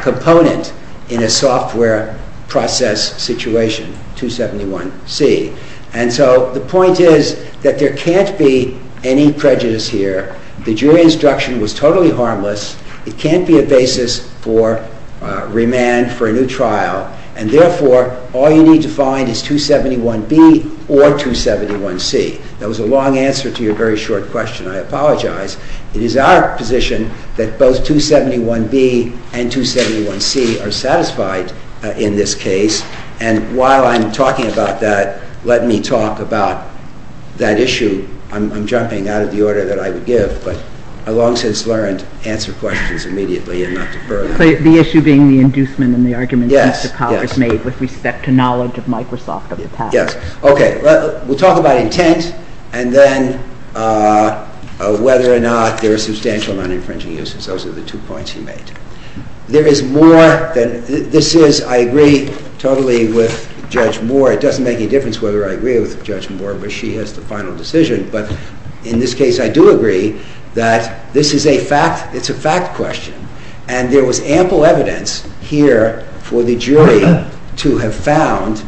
component in a software process situation, 271C. And so the point is that there can't be any prejudice here. The jury instruction was totally harmless. It can't be a basis for remand for a new trial. And therefore, all you need to find is 271B or 271C. That was a long answer to your very short question. I apologize. It is our position that both 271B and 271C are satisfied in this case. And while I'm talking about that, let me talk about that issue. I'm jumping out of the order that I would give, but I've long since learned to answer questions immediately and not defer them. The issue being the inducement and the argument that the Congress made with respect to knowledge of Microsoft of the past. Okay. We'll talk about intent and then whether or not there is substantial non-infringing uses. Those are the two points he made. There is more than this is. I agree totally with Judge Moore. It doesn't make any difference whether I agree with Judge Moore, where she has the final decision. But in this case, I do agree that this is a fact. It's a fact question. And there was ample evidence here for the jury to have found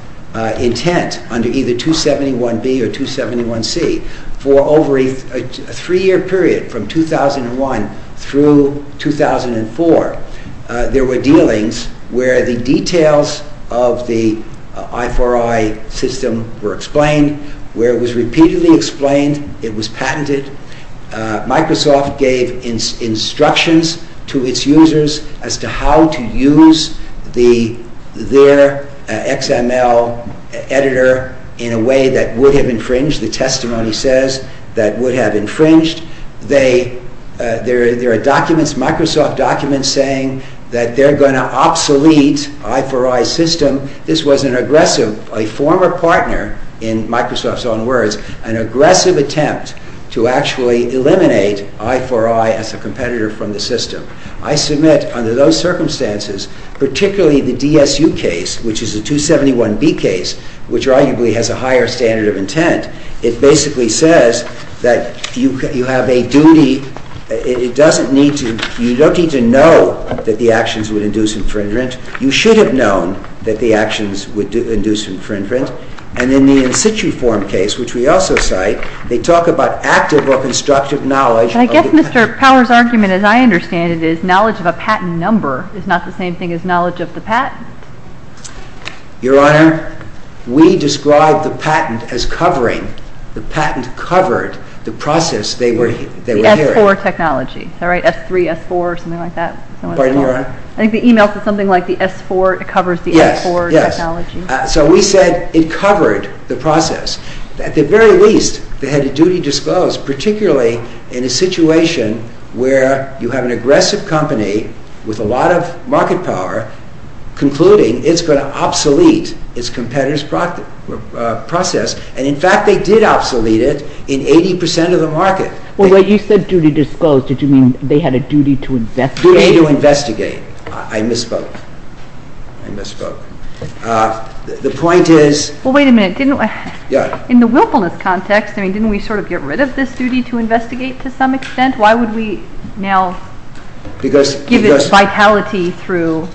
intent under either 271B or 271C. For over a three-year period from 2001 through 2004, there were dealings where the details of the I4I system were explained, where it was repeatedly explained, it was patented. Microsoft gave instructions to its users as to how to use their XML editor in a way that would have infringed, the testimony says, that would have infringed. There are documents, Microsoft documents, saying that they're going to obsolete I4I system. This was an aggressive, a former partner in Microsoft's own words, an aggressive attempt to actually eliminate I4I as a competitor from the system. I submit under those circumstances, particularly the DSU case, which is a 271B case, which arguably has a higher standard of intent, it basically says that you have a duty, you don't need to know that the actions would induce infringement. You should have known that the actions would induce infringement. And then the in situ form case, which we also cite, they talk about active or constructive knowledge. I guess Mr. Power's argument, as I understand it, is knowledge of a patent number is not the same thing as knowledge of the patent. Your Honor, we describe the patent as covering, the patent covered the process they were in. The S4 technology, is that right? S3, S4, something like that? Wait a minute. I think the email said something like the S4 covers the S4 technology. So we said it covered the process. At the very least, they had a duty disclosed, particularly in a situation where you have an aggressive company with a lot of market power concluding it's going to obsolete its competitor's process. And in fact, they did obsolete it in 80% of the market. Well, when you said duty disclosed, did you mean they had a duty to investigate? I misspoke. I misspoke. The point is... Well, wait a minute. In the willfulness context, didn't we sort of get rid of this duty to investigate to some extent? Why would we now give it vitality through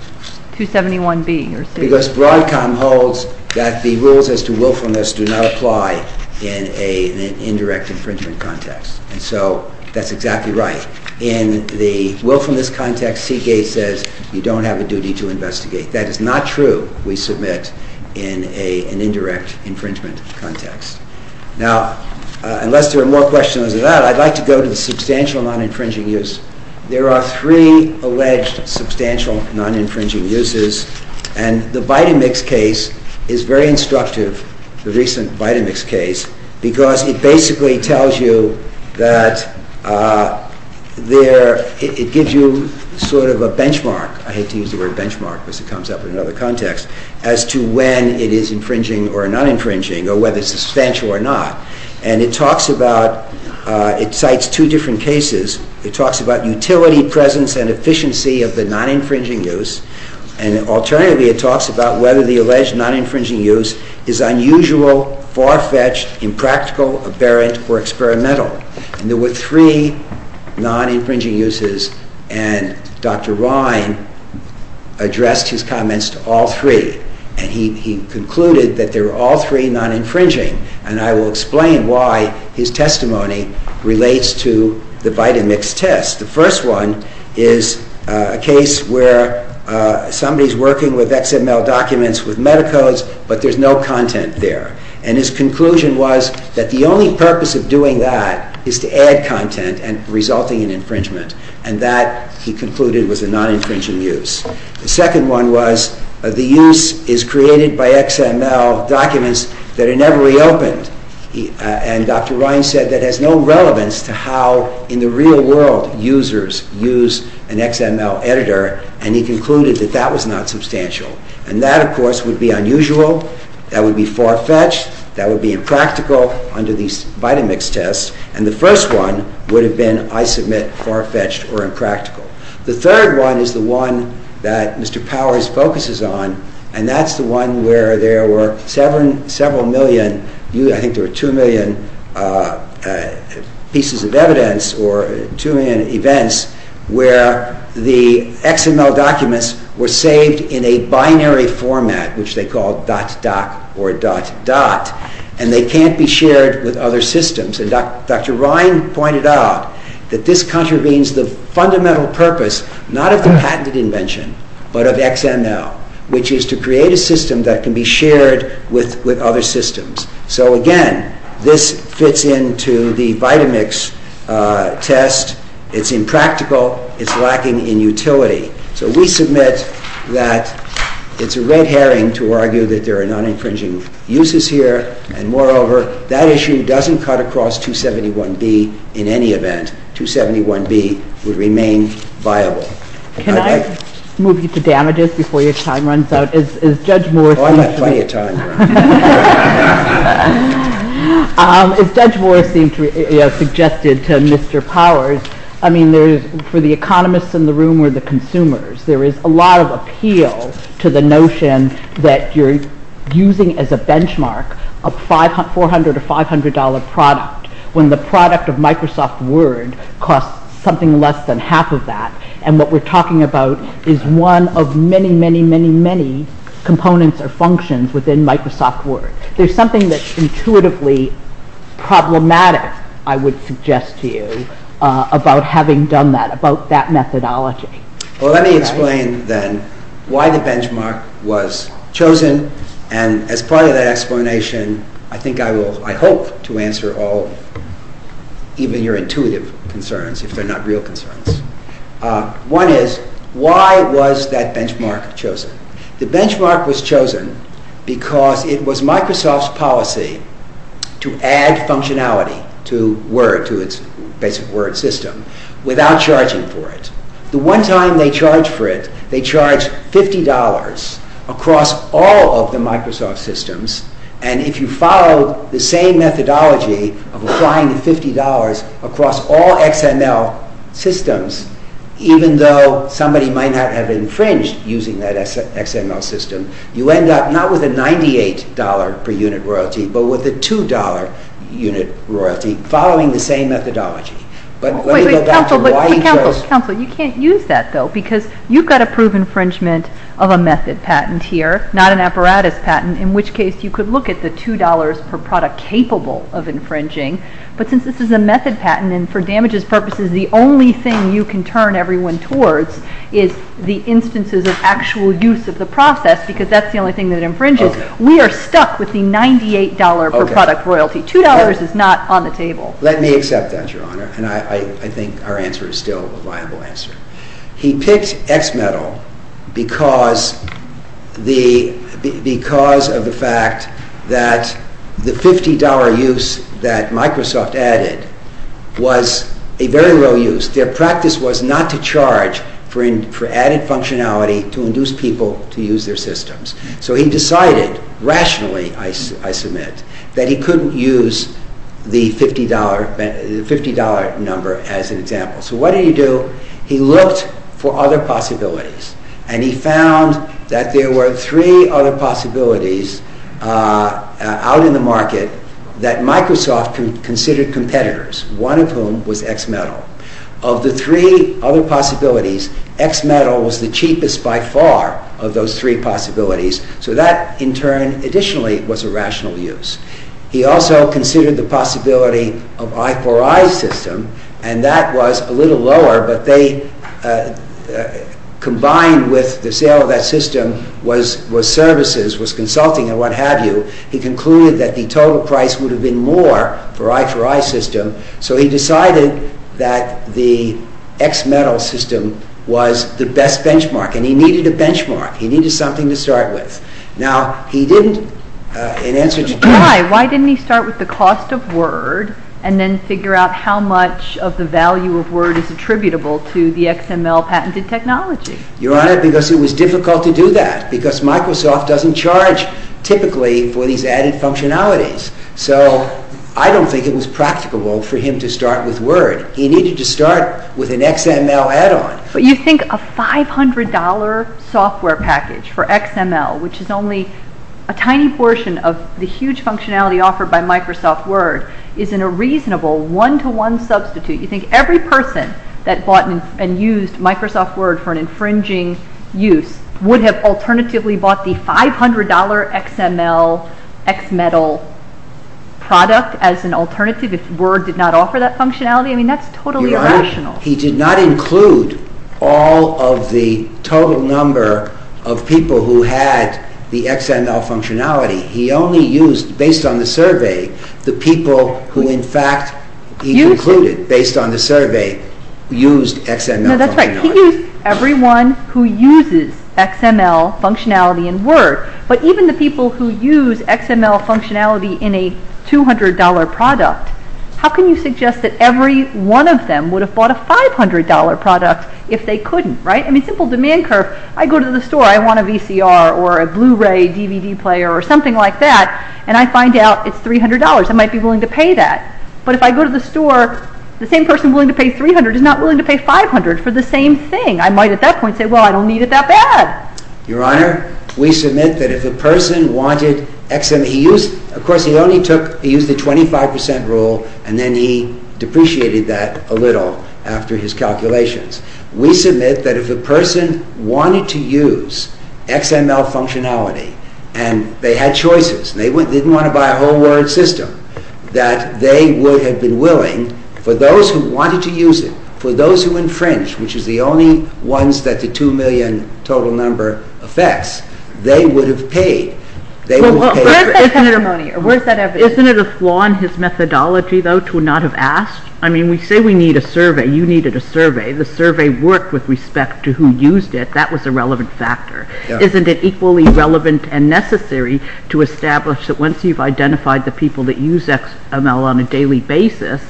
271B? Because Broadcom holds that the rules as to willfulness do not apply in an indirect infringement context. So that's exactly right. In the willfulness context, Seagate says you don't have a duty to investigate. That is not true, we submit, in an indirect infringement context. Now, unless there are more questions about it, I'd like to go to the substantial non-infringing use. There are three alleged substantial non-infringing uses, and the Vitamix case is very instructive, the recent Vitamix case, because it basically tells you that there... it gives you sort of a benchmark, I hate to use the word benchmark because it comes up in another context, as to when it is infringing or non-infringing, or whether it's substantial or not. And it talks about... it cites two different cases. It talks about utility presence and efficiency of the non-infringing use, and alternatively it talks about whether the alleged non-infringing use is unusual, far-fetched, impractical, aberrant, or experimental. And there were three non-infringing uses, and Dr. Rine addressed his comments to all three, and he concluded that they were all three non-infringing, and I will explain why his testimony relates to the Vitamix test. The first one is a case where somebody's working with XML documents, with metacodes, but there's no content there. And his conclusion was that the only purpose of doing that is to add content and resulting in infringement, and that, he concluded, was a non-infringing use. The second one was the use is created by XML documents that are never reopened, and Dr. Rine said that has no relevance to how, in the real world, users use an XML editor, and he concluded that that was not substantial. And that, of course, would be unusual, that would be far-fetched, that would be impractical under these Vitamix tests, and the first one would have been, I submit, far-fetched or impractical. The third one is the one that Mr. Powers focuses on, and that's the one where there were several million, I think there were two million pieces of evidence, or two million events, where the XML documents were saved in a binary format, which they called dot-dot or dot-dot, and they can't be shared with other systems. And Dr. Rine pointed out that this contravenes the fundamental purpose, not of the patented invention, but of XML, which is to create a system that can be shared with other systems. So, again, this fits into the Vitamix test. It's impractical, it's lacking in utility. So we submit that it's a red herring to argue that there are non-infringing uses here, and moreover, that issue doesn't cut across 271B in any event. 271B would remain viable. Can I move you to damages before your time runs out? Oh, I have plenty of time. If that's worth being suggested to Mr. Powers, I mean, for the economists in the room or the consumers, there is a lot of appeal to the notion that you're using as a benchmark a $400 to $500 product when the product of Microsoft Word costs something less than half of that, and what we're talking about is one of many, many, many, many components or functions within Microsoft Word. There's something that's intuitively problematic, I would suggest to you, about having done that, about that methodology. Well, let me explain, then, why the benchmark was chosen, and as part of that explanation, I think I will, I hope, to answer all of, even your intuitive concerns, if they're not real concerns. One is, why was that benchmark chosen? The benchmark was chosen because it was Microsoft's policy to add functionality to Word, to its basic Word system, without charging for it. The one time they charged for it, they charged $50 across all of the Microsoft systems, and if you follow the same methodology of applying the $50 across all XML systems, even though somebody might not have infringed using that XML system, you end up not with a $98 per unit royalty, but with a $2 unit royalty, following the same methodology. But let me go back to why you chose... Wait, wait, wait. You can't use that, though, because you've got to prove infringement of a method patent here, not an apparatus patent, in which case you could look at the $2 per product capable of infringing, but since this is a method patent, and for damages purposes the only thing you can turn everyone towards is the instances of actual use of the process, because that's the only thing that infringes, we are stuck with the $98 per product royalty. $2 is not on the table. Let me accept that, Your Honor, and I think our answer is still a viable answer. He picked XMetal because of the fact that the $50 use that Microsoft added was a very low use. Their practice was not to charge for added functionality to induce people to use their systems. So he decided, rationally, I submit, that he couldn't use the $50 number as an example. So what did he do? He looked for other possibilities, and he found that there were three other possibilities out in the market that Microsoft considered competitors, one of whom was XMetal. Of the three other possibilities, XMetal was the cheapest by far of those three possibilities, so that, in turn, additionally, was a rational use. He also considered the possibility of I4I system, and that was a little lower, but they combined with the sale of that system was services, was consulting, and what have you. He concluded that the total price would have been more for I4I system, so he decided that the XMetal system was the best benchmark, and he needed a benchmark. He needed something to start with. Why? Why didn't he start with the cost of Word and then figure out how much of the value of Word is attributable to the XML patented technology? Your Honor, because it was difficult to do that, because Microsoft doesn't charge, typically, for these added functionalities. So I don't think it was practicable for him to start with Word. He needed to start with an XML add-on. So you think a $500 software package for XML, which is only a tiny portion of the huge functionality offered by Microsoft Word, is a reasonable one-to-one substitute. You think every person that bought and used Microsoft Word for an infringing use would have alternatively bought the $500 XML XMetal product as an alternative if Word did not offer that functionality? I mean, that's totally irrational. He did not include all of the total number of people who had the XML functionality. He only used, based on the survey, the people who, in fact, he included, based on the survey, used XML functionality. No, that's right. He used everyone who uses XML functionality in Word. But even the people who use XML functionality in a $200 product, how can you suggest that every one of them would have bought a $500 product if they couldn't, right? I mean, simple demand curve. I go to the store. I want a VCR or a Blu-ray DVD player or something like that, and I find out it's $300. I might be willing to pay that. But if I go to the store, the same person willing to pay $300 is not willing to pay $500 for the same thing. I might at that point say, well, I don't need it that bad. Your Honor, we submit that if the person wanted XML, of course, he used the 25% rule, and then he depreciated that a little after his calculations. We submit that if the person wanted to use XML functionality and they had choices, they didn't want to buy a whole Word system, that they would have been willing, for those who wanted to use it, for those who infringed, which is the only ones that the $2 million total number affects, they would have paid. Isn't it a flaw in his methodology, though, to not have asked? I mean, we say we need a survey. You needed a survey. The survey worked with respect to who used it. That was a relevant factor. Isn't it equally relevant and necessary to establish that once you've identified the people that use XML on a daily basis,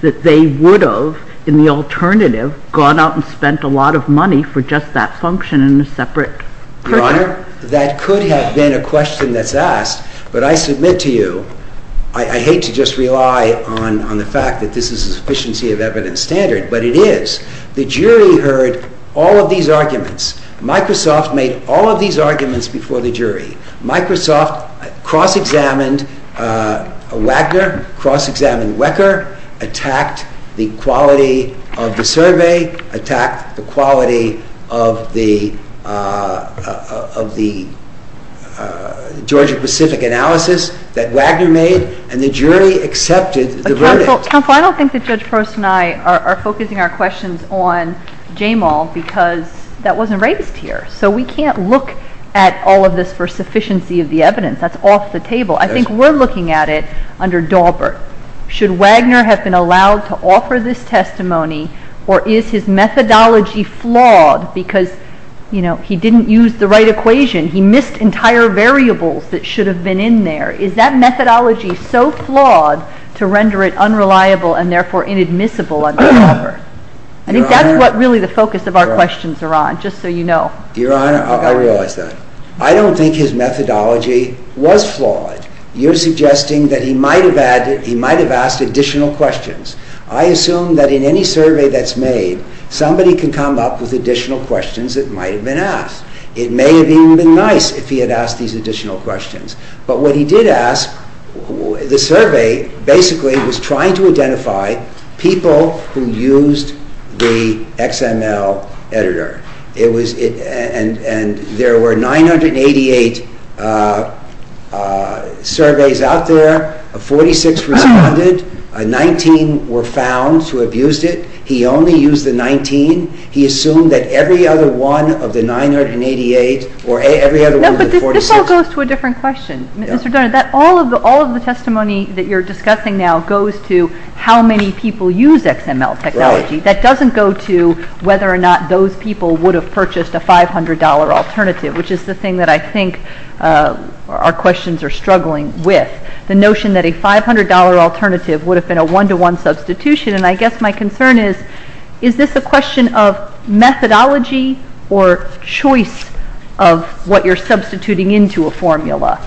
that they would have, in the alternative, gone out and spent a lot of money for just that function in a separate program? That could have been a question that's asked, but I submit to you, I hate to just rely on the fact that this is a sufficiency of evidence standard, but it is. The jury heard all of these arguments. Microsoft made all of these arguments before the jury. Microsoft cross-examined Wacker, cross-examined Wecker, attacked the quality of the survey, attacked the quality of the Georgia-Pacific analysis that Wagner made, and the jury accepted the verdict. Counsel, I don't think that Judge Gross and I are focusing our questions on Jamal because that wasn't raised here. So we can't look at all of this for sufficiency of the evidence. That's off the table. I think we're looking at it under Daubert. Should Wagner have been allowed to offer this testimony or is his methodology flawed because he didn't use the right equation? He missed entire variables that should have been in there. Is that methodology so flawed to render it unreliable and therefore inadmissible under Daubert? That is what really the focus of our questions are on, just so you know. Your Honor, I realize that. I don't think his methodology was flawed. You're suggesting that he might have asked additional questions. I assume that in any survey that's made, somebody can come up with additional questions that might have been asked. It may have even been nice if he had asked these additional questions. But what he did ask, the survey, basically was trying to identify people who used the XML editor. There were 988 surveys out there, 46 were not funded, 19 were found to have used it. He only used the 19. He assumed that every other one of the 988 or every other one of the 46. This all goes to a different question. All of the testimony that you're discussing now goes to how many people use XML technology. That doesn't go to whether or not those people would have purchased a $500 alternative, which is the thing that I think our questions are struggling with. The notion that a $500 alternative would have been a one-to-one substitution. I guess my concern is, is this a question of methodology or choice of what you're substituting into a formula?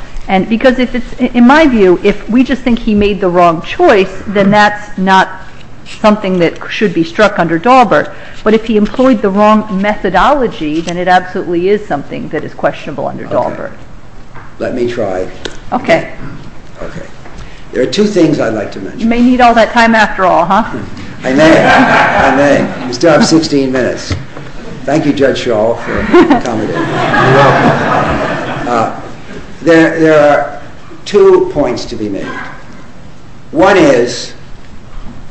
Because in my view, if we just think he made the wrong choice, then that's not something that should be struck under Daubert. But if he employed the wrong methodology, then it absolutely is something that is questionable under Daubert. Let me try. Okay. There are two things I'd like to mention. You may need all that time after all, huh? I may. I may. We still have 16 minutes. Thank you, Judge Shaw, for accommodating. You're welcome. There are two points to be made. One is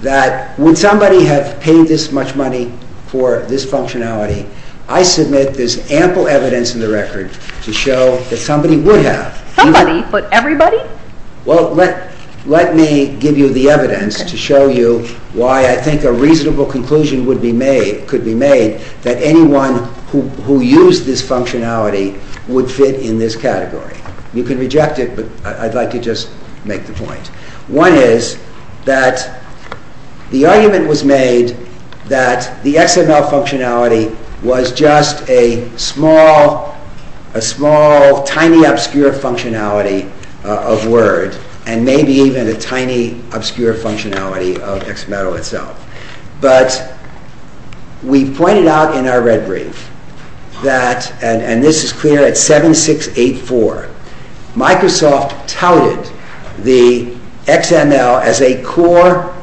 that when somebody had paid this much money for this functionality, I submit this ample evidence in the record to show that somebody would have. Somebody? But everybody? Well, let me give you the evidence to show you why I think a reasonable conclusion could be made that anyone who used this functionality would fit in this category. You can reject it, but I'd like to just make the point. One is that the argument was made that the XML functionality was just a small, tiny, obscure functionality of words, and maybe even a tiny, obscure functionality of XML itself. But we pointed out in our red brief that, and this is clear at 7684, Microsoft touted the XML as a core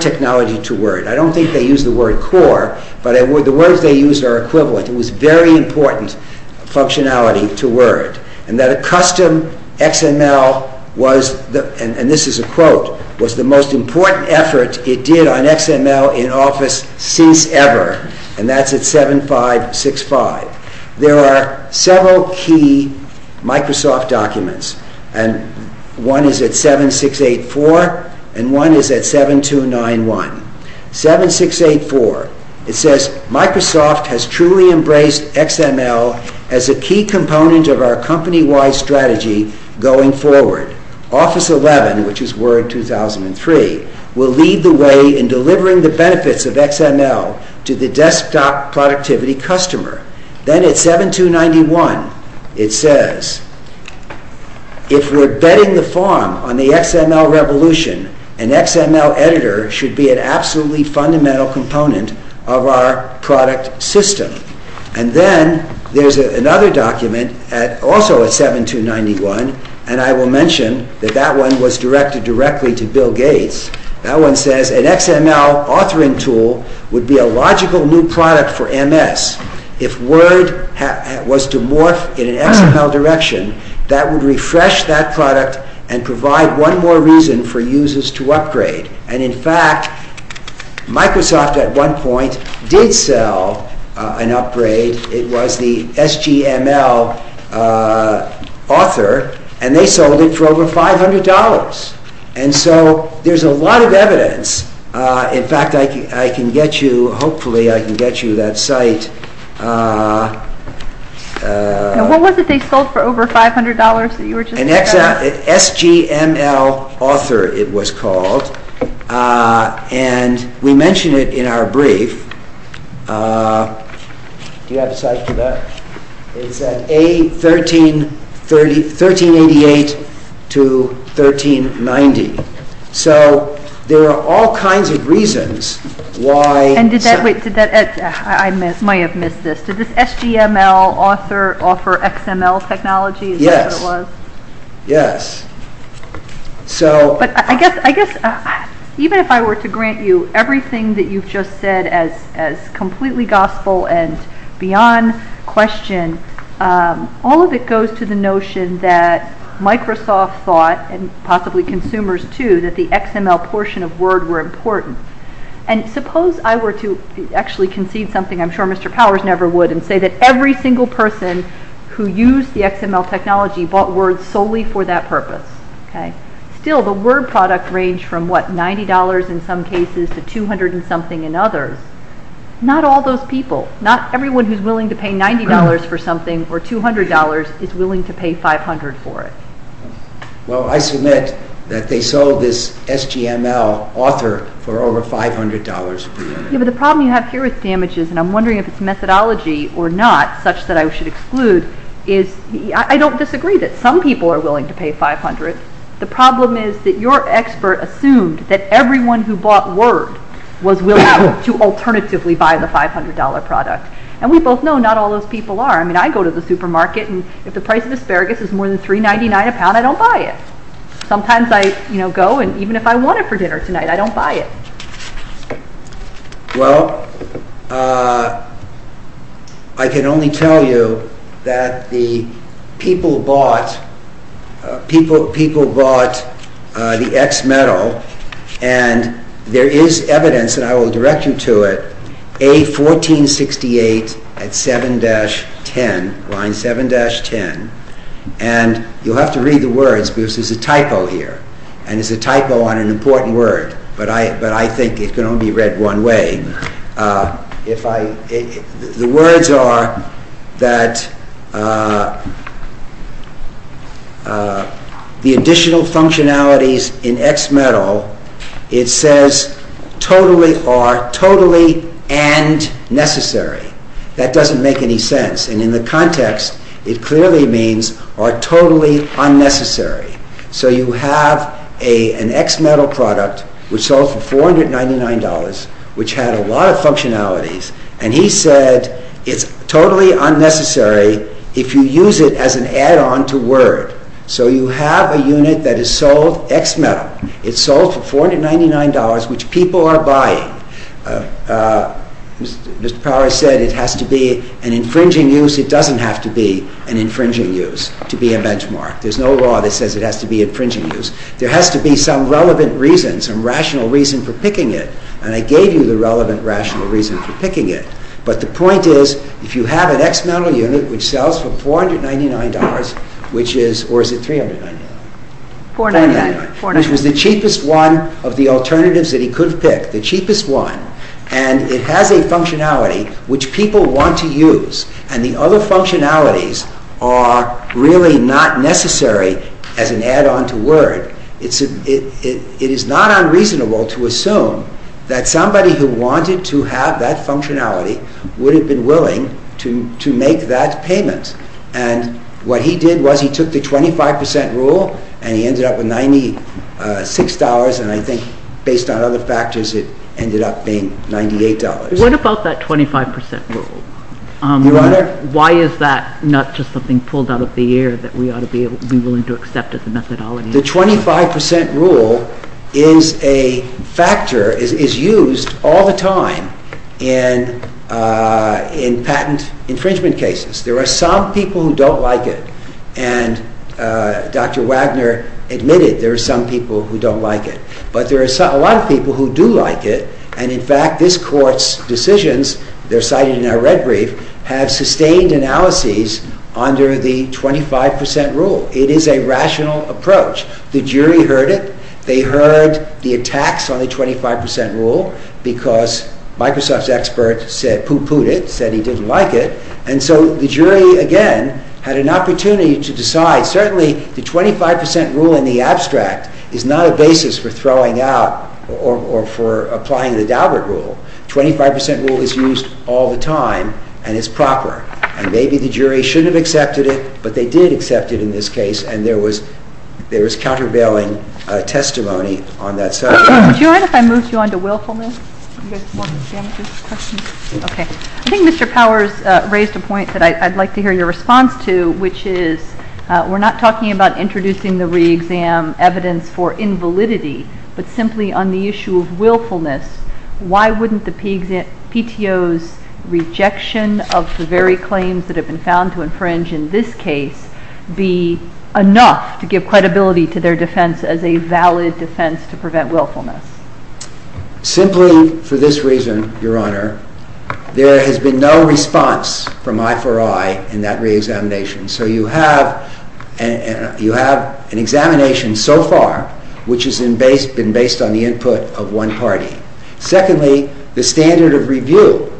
technology to Word. I don't think they used the word core, but the words they used are equivalent. It was a very important functionality to Word, and that a custom XML was, and this is a quote, was the most important effort it did on XML in Office since ever, and that's at 7565. There are several key Microsoft documents, and one is at 7684, and one is at 7291. 7684, it says, Microsoft has truly embraced XML as a key component of our company-wide strategy going forward. Office 11, which is Word 2003, will lead the way in delivering the benefits of XML to the desktop productivity customer. Then at 7291, it says, if we're betting the farm on the XML revolution, an XML editor should be an absolutely fundamental component of our product system. And then there's another document, also at 7291, and I will mention that that one was directed directly to Bill Gates. That one says, an XML authoring tool would be a logical new product for MS if Word was to morph in an XML direction, that would refresh that product and provide one more reason for users to upgrade. And in fact, Microsoft at one point did sell an upgrade. It was the HTML author, and they sold it for over $500. And so there's a lot of evidence. In fact, I can get you, hopefully I can get you that site. What was it they sold for over $500 that you were just talking about? An SGML author, it was called. And we mention it in our brief. Do you have the site for that? It's at 1388 to 1390. So there are all kinds of reasons why. I might have missed this. Did this SGML author offer XML technology? Yes, yes. But I guess even if I were to grant you everything that you've just said as completely gospel and beyond question, all of it goes to the notion that Microsoft thought, and possibly consumers too, that the XML portion of Word were important. And suppose I were to actually conceive something, I'm sure Mr. Powers never would, and say that every single person who used the XML technology bought Word solely for that purpose. Still, the Word product ranged from, what, $90 in some cases to $200 and something in others. Not all those people. Not everyone who's willing to pay $90 for something or $200 is willing to pay $500 for it. Well, I submit that they sold this SGML author for over $500. Yeah, but the problem you have here with damages, and I'm wondering if it's methodology or not, such that I should exclude, is I don't disagree that some people are willing to pay $500. The problem is that your expert assumed that everyone who bought Word was willing to alternatively buy the $500 product. And we both know not all those people are. I mean, I go to the supermarket, and if the price of asparagus is more than $3.99 a pound, I don't buy it. Sometimes I go, and even if I want it for dinner tonight, I don't buy it. Well, I can only tell you that the people bought the XMetal, and there is evidence, and I will direct you to it, A1468 at 7-10, line 7-10, and you'll have to read the words because there's a typo here, and it's a typo on an important word, but I think it can only be read one way. The words are that the additional functionalities in XMetal, it says totally are, totally and necessary. That doesn't make any sense, and in the context, it clearly means are totally unnecessary. So you have an XMetal product which sold for $499, which had a lot of functionalities, and he said it's totally unnecessary if you use it as an add-on to Word. So you have a unit that is sold XMetal. It's sold for $499, which people are buying. Mr. Powers said it has to be an infringing use. It doesn't have to be an infringing use to be a benchmark. There's no law that says it has to be infringing use. There has to be some relevant reason, some rational reason for picking it, and I gave you the relevant rational reason for picking it, but the point is if you have an XMetal unit which sells for $499, or is it $399? $499. Which was the cheapest one of the alternatives that he could pick, the cheapest one, and it has a functionality which people want to use, and the other functionalities are really not necessary as an add-on to Word. It is not unreasonable to assume that somebody who wanted to have that functionality would have been willing to make that payment, and what he did was he took the 25% rule, and he ended up with $96, and I think based on other factors it ended up being $98. What about that 25% rule? Why is that not just something pulled out of the air that we ought to be willing to accept as a methodology? The 25% rule is a factor that is used all the time in patent infringement cases. There are some people who don't like it, and Dr. Wagner admitted there are some people who don't like it, but there are a lot of people who do like it, and in fact this court's decisions, they're cited in our red brief, have sustained analyses under the 25% rule. It is a rational approach. The jury heard it. They heard the attacks on the 25% rule because Microsoft's expert pooh-poohed it, said he didn't like it, and so the jury, again, had an opportunity to decide. Certainly the 25% rule in the abstract is not a basis for throwing out or for applying the Daubert rule. The 25% rule is used all the time, and it's proper, and maybe the jury shouldn't have accepted it, but they did accept it in this case, and there was countervailing testimony on that side. Do you mind if I move you on to Wilhelmus? Okay. I think Mr. Powers raised a point that I'd like to hear your response to, which is we're not talking about introducing the re-exam evidence for invalidity, but simply on the issue of willfulness. Why wouldn't the PTO's rejection of the very claims that have been found to infringe in this case be enough to give credibility to their defense as a valid defense to prevent willfulness? Simply for this reason, Your Honor, there has been no response from I4I in that re-examination, so you have an examination so far which has been based on the input of one party. Secondly, the standard of review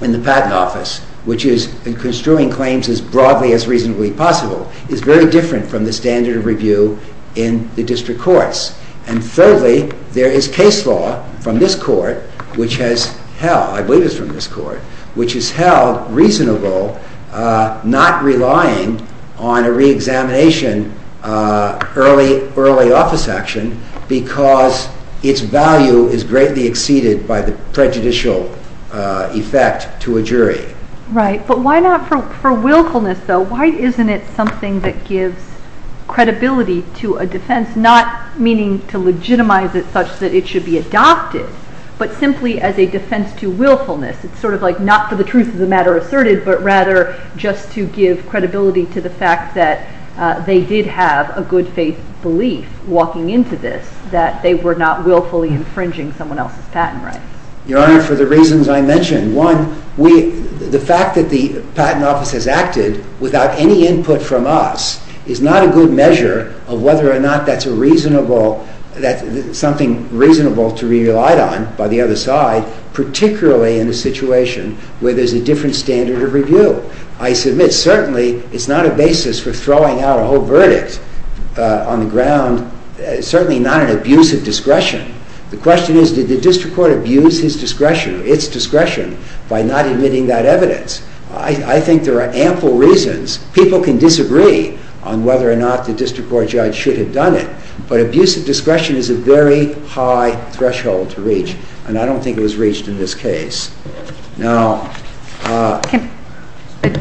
in the patent office, which is construing claims as broadly as reasonably possible, is very different from the standard of review in the district courts. And thirdly, there is case law from this court, which has held, I believe it's from this court, which has held reasonable not relying on a re-examination early office action because its value is greatly exceeded by the prejudicial effect to a jury. Right, but why not for willfulness, though? Why isn't it something that gives credibility to a defense, not meaning to legitimize it such that it should be adopted, but simply as a defense to willfulness? It's sort of like not for the truth of the matter asserted, but rather just to give credibility to the fact that they did have a good faith belief walking into this, that they were not willfully infringing someone else's patent rights. Your Honor, for the reasons I mentioned, one, the fact that the patent office has acted without any input from us is not a good measure of whether or not that's a reasonable, something reasonable to rely on by the other side, particularly in the situation where there's a different standard of review. I submit, certainly, it's not a basis for throwing out a whole verdict on the ground, certainly not an abuse of discretion. The question is, did the district court abuse its discretion by not admitting that evidence? I think there are ample reasons. People can disagree on whether or not the district court judge should have done it, but abuse of discretion is a very high threshold to reach, and I don't think it was reached in this case. Now...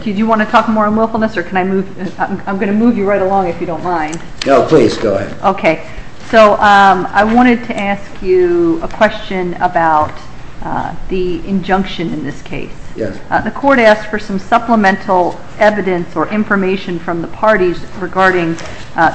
Do you want to talk more on willfulness, or can I move... I'm going to move you right along if you don't mind. No, please, go ahead. Okay. So I wanted to ask you a question about the injunction in this case. Yes. The court asked for some supplemental evidence or information from the parties regarding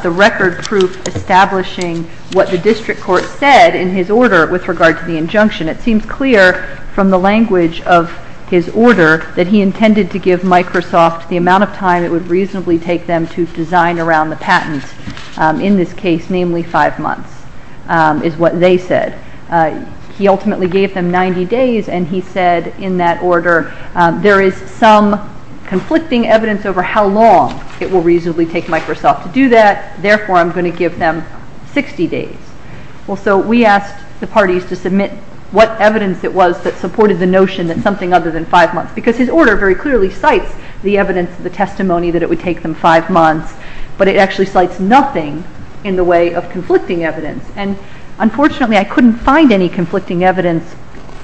the record proof establishing what the district court said in his order with regard to the injunction. It seems clear from the language of his order that he intended to give Microsoft the amount of time it would reasonably take them to design around the patent in this case, namely five months, is what they said. He ultimately gave them 90 days, and he said in that order, there is some conflicting evidence over how long it will reasonably take Microsoft to do that, therefore I'm going to give them 60 days. So we asked the parties to submit what evidence it was that supported the notion that something other than five months, because his order very clearly cites the evidence and the testimony that it would take them five months, but it actually cites nothing in the way of conflicting evidence, and unfortunately I couldn't find any conflicting evidence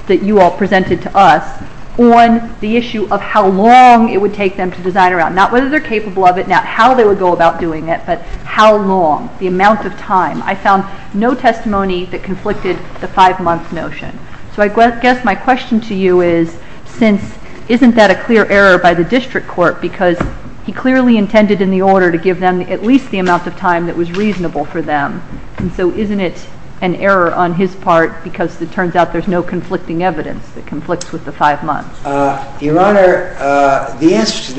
that you all presented to us on the issue of how long it would take them to design around, not whether they're capable of it, not how they would go about doing it, but how long, the amount of time. I found no testimony that conflicted the five month notion. So I guess my question to you is, isn't that a clear error by the district court because he clearly intended in the order to give them at least the amount of time that was reasonable for them, and so isn't it an error on his part because it turns out there's no conflicting evidence that conflicts with the five months? Your Honor, the incident...